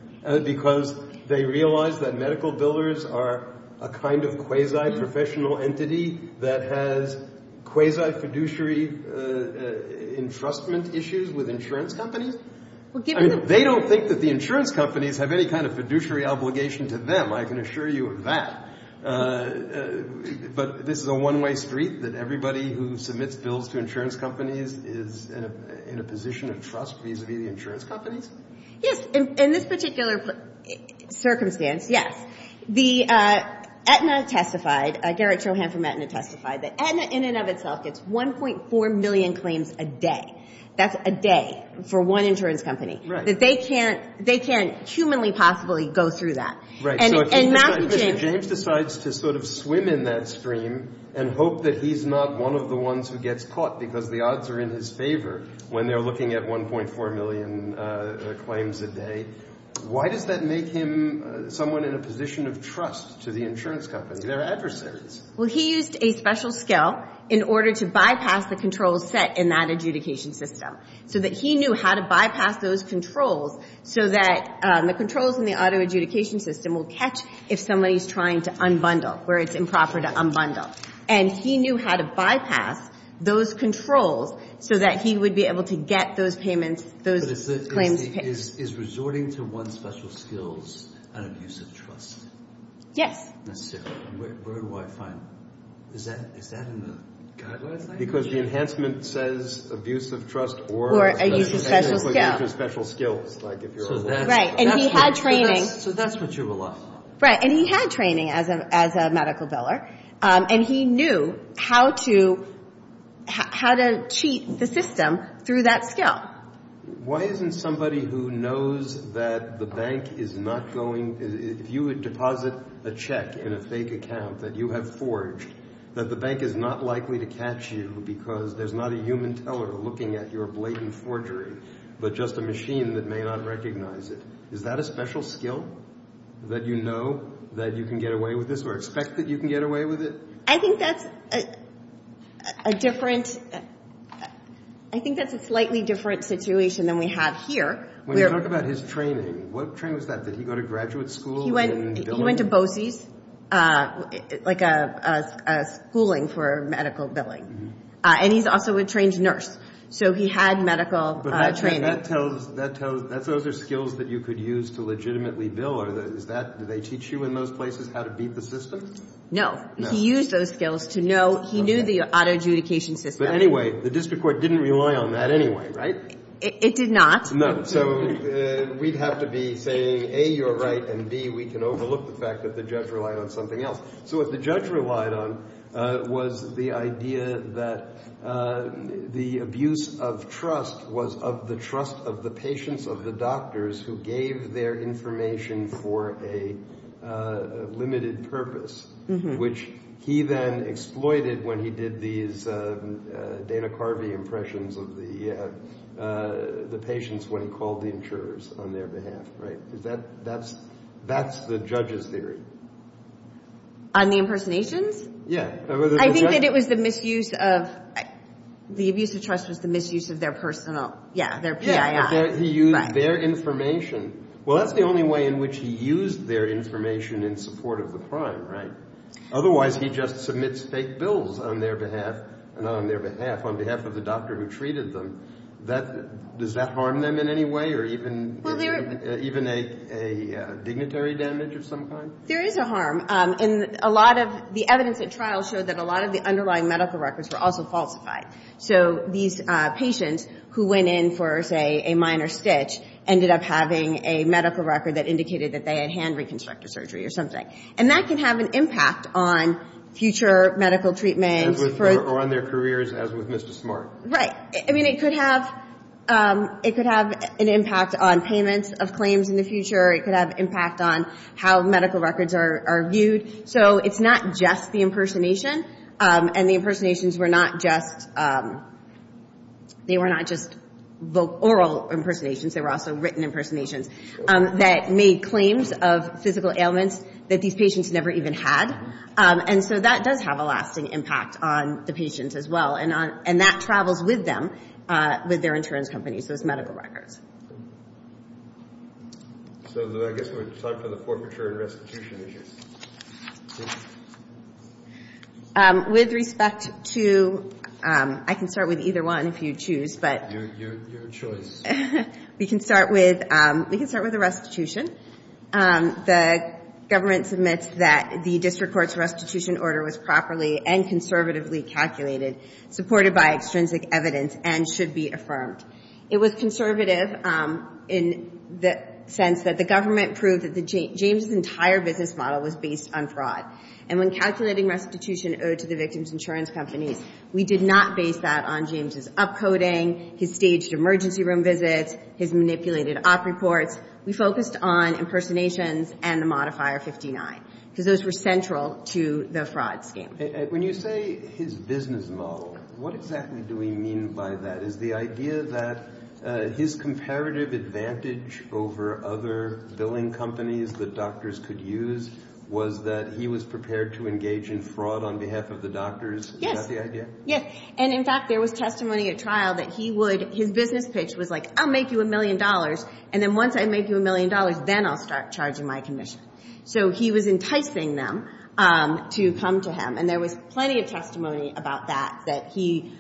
because they realized that medical billers are a kind of quasi-professional entity that has quasi-fiduciary entrustment issues with insurance companies? I mean, they don't think that the insurance companies have any kind of fiduciary obligation to them, I can assure you of that. But this is a one-way street that everybody who submits bills to insurance companies is in a position of trust, vis-a-vis the insurance companies. Yes, in this particular circumstance, yes, the Aetna testified, Gerrit Johann from Aetna testified that Aetna, in and of itself, gets 1.4 million claims a day. That's a day for one insurance company. They can't humanly possibly go through that. Right, so I think Mr. James decides to sort of swim in that stream and hope that he's not one of the ones who gets caught, because the odds are in his favor when they're looking at 1.4 million claims a day. Why does that make him someone in a position of trust to the insurance companies? There are adversaries. Well, he used a special skill in order to bypass the controls set in that adjudication system, so that he knew how to bypass those controls so that the controls in the auto-adjudication system will catch if somebody's trying to unbundle, where it's improper to unbundle. And he knew how to bypass those controls so that he would be able to get those claims. But is resorting to one's special skills an abuse of trust? Yes. That's different. Where do I find that? Is that in the guidelines? Because the enhancement says abuse of trust or special skills. Right, and he had training. So that's what you were lost on. Right, and he had training as a medical biller, and he knew how to cheat the system through that skill. Why isn't somebody who knows that the bank is not going, if you would deposit a check in a fake account that you have forged, that the bank is not likely to catch you because there's not a human teller looking at your blatant forgery, but just a machine that may not recognize it. Is that a special skill that you know that you can get away with this or expect that you can get away with it? I think that's a different, I think that's a slightly different situation than we have here. When you talk about his training, what training was that? Did he go to graduate school? He went to BOCES, like a schooling for medical billing. And he's also a trained nurse. So he had medical training. But that tells, those are skills that you could use to legitimately bill. Did they teach you in those places how to beat the system? No. He used those skills to know, he knew the auto adjudication system. But anyway, the district court didn't rely on that anyway, right? It did not. No. So we'd have to be saying A, you're right, and B, we can overlook the fact that the judge relied on something else. So what the judge relied on was the idea that the abuse of trust was of the trust of the patients, of the doctors who gave their information for a limited purpose, which he then exploited when he did these data carving impressions of the patients when he called the insurers on their behalf, right? That's the judge's theory. On the impersonations? Yeah. I think that it was the misuse of, the abuse of trust was the misuse of their personal, yeah, their PIF. He used their information. Well, that's the only way in which he used their information in support of the crime, right? Otherwise, he just submits fake bills on their behalf, and on their behalf, on behalf of the doctor who treated them. Does that harm them in any way, or even even a dignitary damage of some kind? There is a harm. And a lot of the evidence at trial showed that a lot of the underlying medical records were also falsified. So these patients who went in for, say, a minor stitch ended up having a medical record that indicated that they had hand reconstructive surgery or something. And that can have an impact on future medical treatment. Or on their careers, as with Mr. Smart. Right. I mean, it could have it could have an impact on payments of claims in the future. It could have an impact on how medical records are viewed. So it's not just the impersonation. And the impersonations were not just they were not just oral impersonations. They were also written impersonations that made claims of physical ailments that these patients never even had. And so that does have a lasting impact on the patients as well. And that travels with them with their insurance companies, those medical records. So I guess we would decide for the poor matured restitution issues. With respect to I can start with either one if you choose, but your choice. We can start with we can start with the restitution. The government submits that the district court's restitution order was properly and conservatively calculated supported by extrinsic evidence and should be affirmed. It was conservative in the sense that the government proved that James' entire business model was based on fraud. And when calculating restitution owed to the victim's insurance company, we did not base that on James' upcoding, his staged emergency room visit, his manipulated op reports. We focused on impersonations and the modifier 59. So those were central to the fraud scheme. When you say his business model, what exactly do we mean by that? Is the idea that his comparative advantage over other billing companies that doctors could use was that he was prepared to engage in fraud on behalf of the doctors? Yes. Is that the idea? Yes, and in fact there was testimony at trial that he would, his business pitch was like, I'll make you a million dollars and then once I make you a million dollars then I'll start charging my commission. So he was enticing them to come to him and there was plenty of testimony about that, that he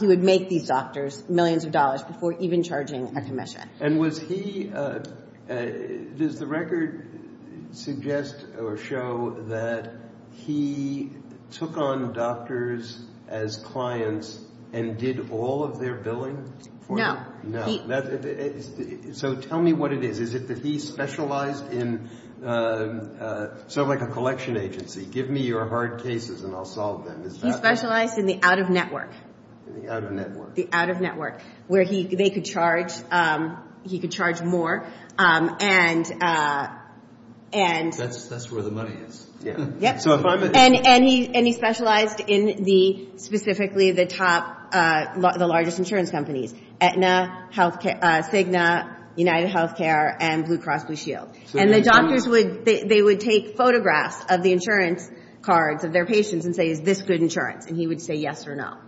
would make these doctors millions of dollars before even charging a commission. And was he, does the record suggest or show that he took on doctors as clients and did all of their billing? No. So tell me what it is. Is it that he specialized in sort of like a collection agency, give me your hard cases and I'll solve them. He specialized in the out-of-network. The out-of-network. The out-of-network. Where they could charge, he could charge more and... That's where the money is. Yep. And he specialized in the, specifically the top, the largest insurance companies. Signa, United Healthcare, and Blue Cross Blue Shield. And the doctors would, they would take photographs of the insurance cards of their patients and say, is this good insurance? And he would say, yes or no.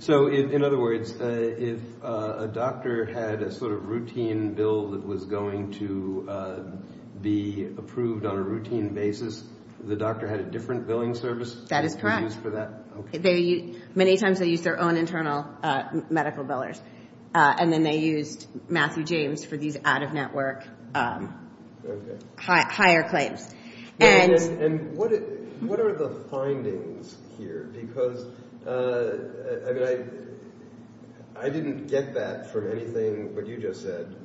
So in other words, if a doctor had a sort of routine bill that was going to be approved on a routine basis, the doctor had a different billing service? That is correct. Many times they used their own internal medical billers. And then they used Matthew James for these out-of-network higher claims. And... And what are the findings here? Because, I mean, I didn't get that from anything that you just said.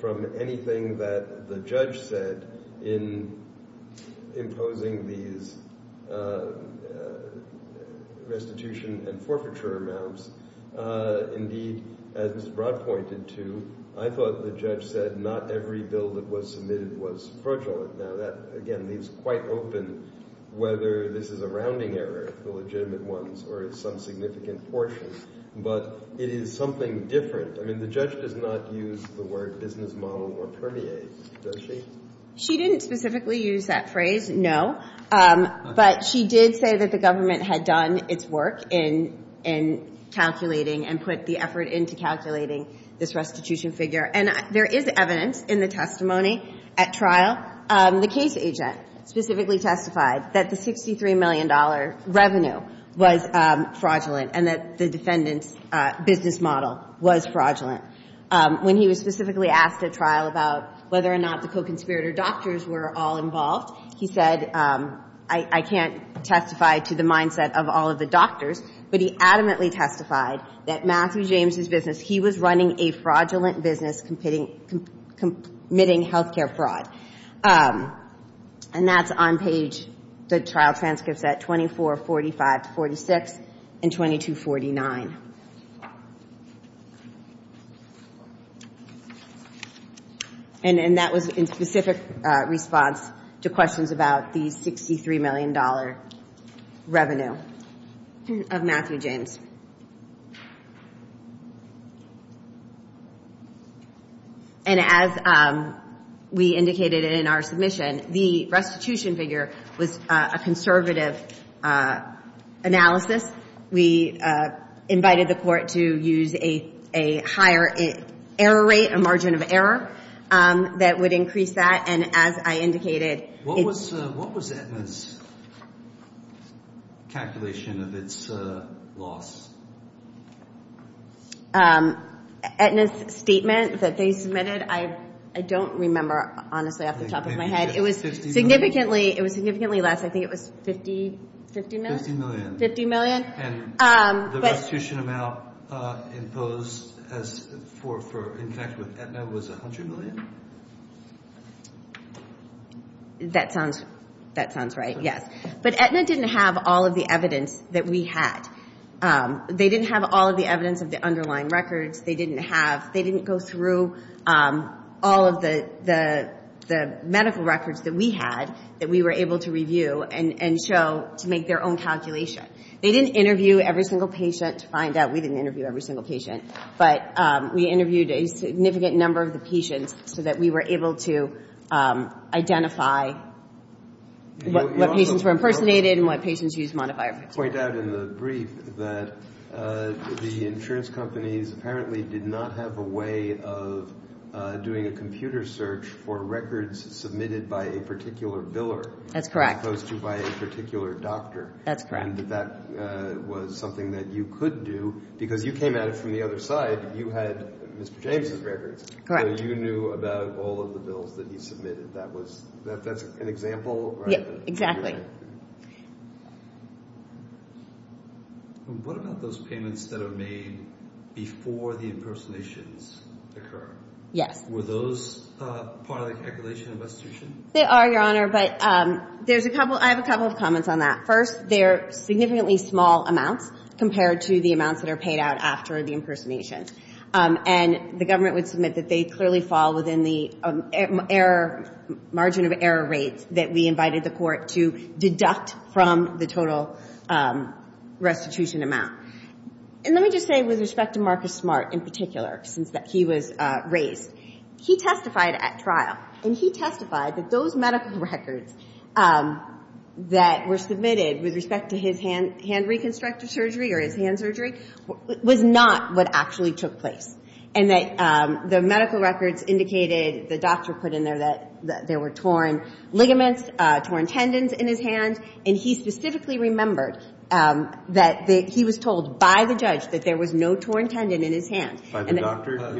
From anything that the judge said in imposing these restitution and forfeiture amounts, indeed, as Rod pointed to, I thought the judge said not every bill that was submitted was fraudulent. Now that, again, leaves quite open whether this is a rounding error, the legitimate ones, or some significant portion. But it is something different. I mean, the judge did not use the word business model or permeate, does she? She didn't specifically use that phrase, no. But she did say that the government had done its work in calculating and put the effort into calculating this restitution figure. And there is evidence in the testimony at trial. The case agent specifically testified that the $63 million revenue was fraudulent and that the defendant's business model was fraudulent. When he was specifically asked at trial about whether or not the co-conspirator doctors were all involved, he said, I can't testify to the mindset of all of the doctors, but he adamantly testified that Matthew James's business, he was running a fraudulent business committing healthcare fraud. And that's on page, the trial transcripts at 24, 45, 46, and 22, 49. And that was in specific response to questions about the $63 million revenue of Matthew James. And as we indicated in our submission, the restitution figure was a conservative analysis. We invited the court to use a higher error rate, a margin of error that would increase that. And as I indicated, it's... What was Aetna's calculation of its loss? Aetna's that they submitted, I don't remember, honestly, off the top of my head. It was significantly less. I think it was $50 million? $50 million. And the restitution amount imposed for Aetna was $100 million? That sounds... That sounds right. Yes. But Aetna didn't have all of the evidence that we had. They didn't have all of the evidence of the underlying records. They didn't have... They didn't go through all of the medical records that we had that we were able to review and show to make their own calculation. They didn't interview every single patient to find out. We didn't interview every single patient. But we interviewed a significant number of the patients so that we were able to identify what patients were impersonated and what patients used modifiers. You also point out in the brief that the insurance companies apparently did not have a way of doing a computer search for records submitted by a particular biller. That's correct. As opposed to by a particular doctor. That's correct. And that was something that you could do because you came at it from the other side. You had Mr. James' records. Correct. So you knew about all of the bills that you submitted. Is that an example? Yes, exactly. What about those payments that are made before the impersonations occur? Yes. Were those part of the investigation? They are, Your Honor. But I have a couple of comments on that. First, they're significantly small amounts compared to the amounts that are paid out after the impersonation. And the government would submit that they clearly fall within the margin of error rate that we invited the court to deduct from the total restitution amount. And let me just say with respect to Marcus Smart in particular since he was raised, he testified at trial and he that those medical records that were submitted with respect to his hand reconstructive surgery or his hand surgery was not what actually took place. And the medical records indicated the doctor put in there that there were torn ligaments, torn tendons in his hand, and he specifically remembered that he was told by the judge that there was no torn tendon in his hand. By the doctor? By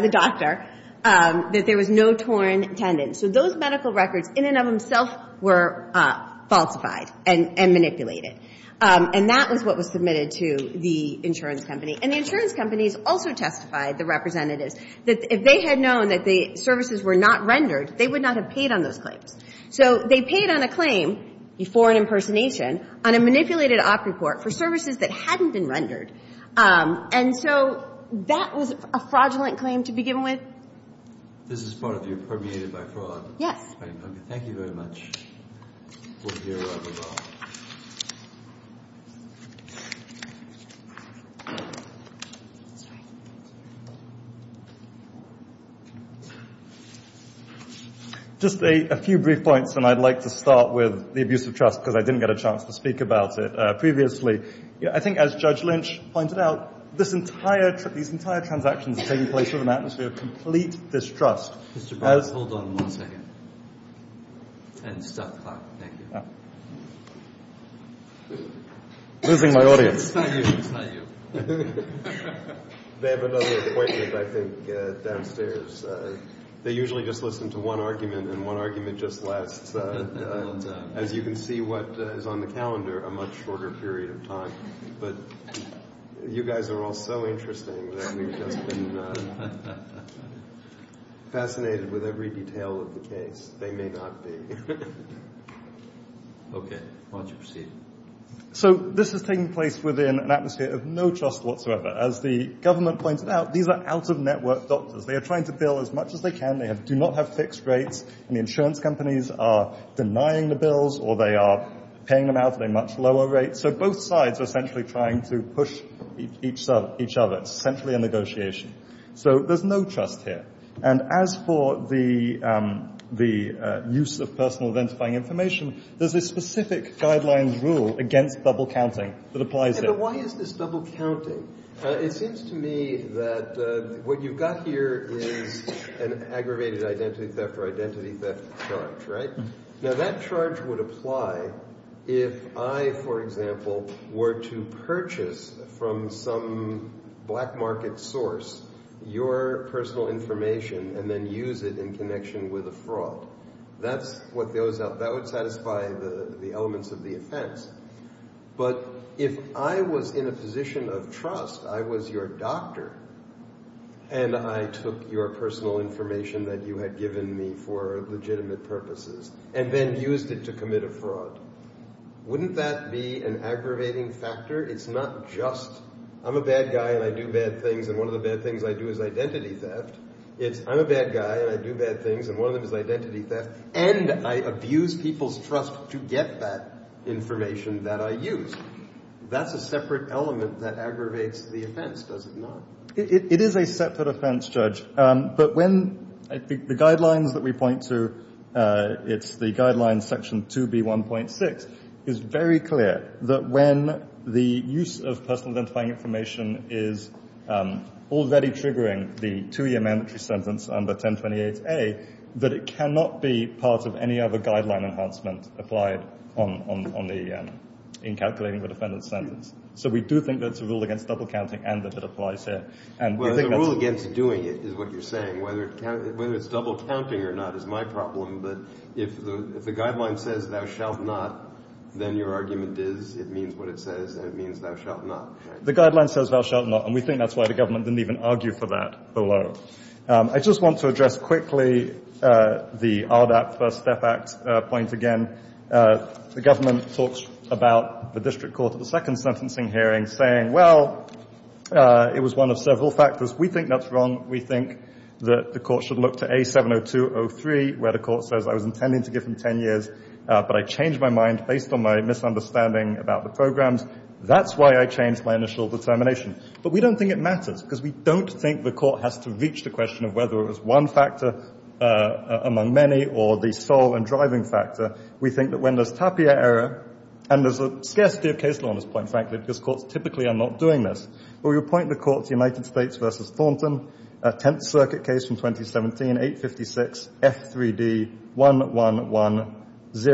the doctor. That there was no torn tendon. So those medical records in and of themselves were falsified and manipulated. And that was what was submitted to the insurance company. And the companies also testified, the representatives, that if they had known that the services were not rendered, they would not have paid on those claims. So they paid on a claim, before an impersonation, on a manipulated op report for services that hadn't been rendered. And so that was a fraudulent claim to be given with. Yes. Thank you very much. Just a few brief points and I'd like to start with the abuse of trust because I didn't get a chance to speak about it previously. I think as Judge Lynch pointed out, this entire, these entire transactions taking place in an atmosphere of complete distrust. Mr. Powell, hold on one second. And sorry interrupting. I'm losing my audience. do. They haven't done the appointment I think downstairs. They usually just listen to one argument and one argument just left. And as you can see what is on the calendar, a much shorter period of time. But you guys are all so interesting and I'm fascinated with every detail of the case. They may not be. Okay. Why don't you proceed? So this is taking place within an atmosphere of no trust whatsoever. As the government pointed out, these are out-of-network doctors. They are trying to bill as much as they can. They do not have fixed rates and the insurance companies are denying the bills or they are paying them out at a much lower rate. So both sides are essentially trying to push each other. a negotiation. So there's no trust here. And as for the use of personal identifying information, there's a specific guidelines rule against double counting. Why is this double counting? It seems to me that what you've got here is an aggravated identity theft charge, right? Now that charge would apply if I, for example, were to purchase from some black market source your personal information and then use it in connection with a That's what goes up. That would satisfy the elements of the offense. But if I was in a position of trust, I was your doctor and I took your personal information that you had given me for legitimate purposes and then used it to commit a fraud, wouldn't that be an aggravating factor? It's not just I'm a bad guy and I do bad things and one of the bad things I do is identity theft. It's I'm a bad guy and I do bad things and one of them is identity theft and I abuse people's trust to get that information that I use. That's a separate element that aggravates the offense, does it not? It is a separate element Judge. The guidelines that we point to, it's the guidelines section 2B1.6 is very clear that when the use of personal identifying information is already triggering the two-year mandatory sentence under 1028A that it cannot be part of any other guideline enhancement applied on the in calculating the defendant's sentence. So we do think it's a rule against double counting. The rule against doing it is what you're Whether it's double counting or not is my problem but if the guidelines say thou shalt not then your argument is it means what it says and it means thou shalt not. The guideline says thou shalt not and we think that's why the government didn't even argue for that below. I just want to address quickly the first step act and government talks about the district court saying it was one of several factors. We think that's wrong. think the court should look to A 702 where the says I changed my mind based on the programs. That's why I changed my initial determination. We don't think it matters because we don't think the court has to reach the end of the process. We don't think it matters because the court has to reach the end of the process. We don't think it matters because we don't think it matters because there is other because reach the end of the process. We don't think it matters because there is no other way reach the end of the because the court has to reach the process. end of We don't think it matters because there is no other way reach the end of the process. don't think it matters because there is no other way reach the end of the process. end of process. don't think it matters because there is no other way end of the Thank you very much. I think that is reserve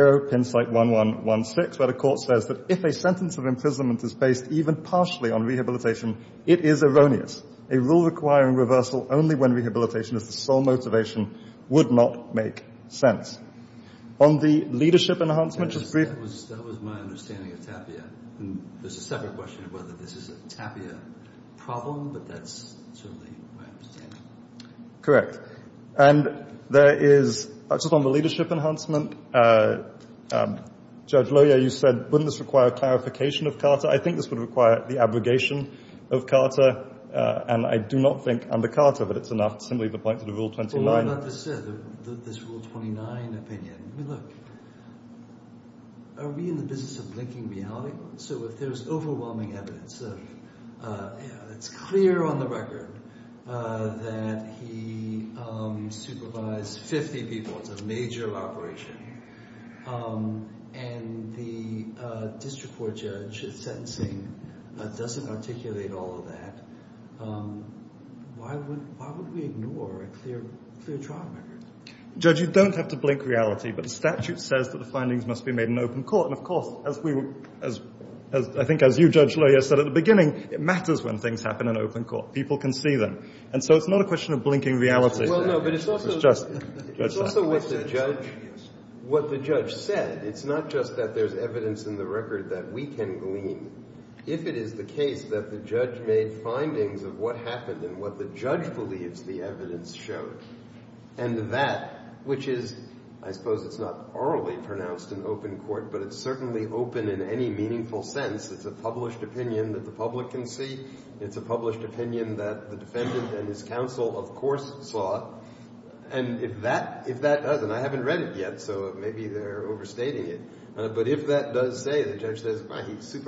the session. Thank you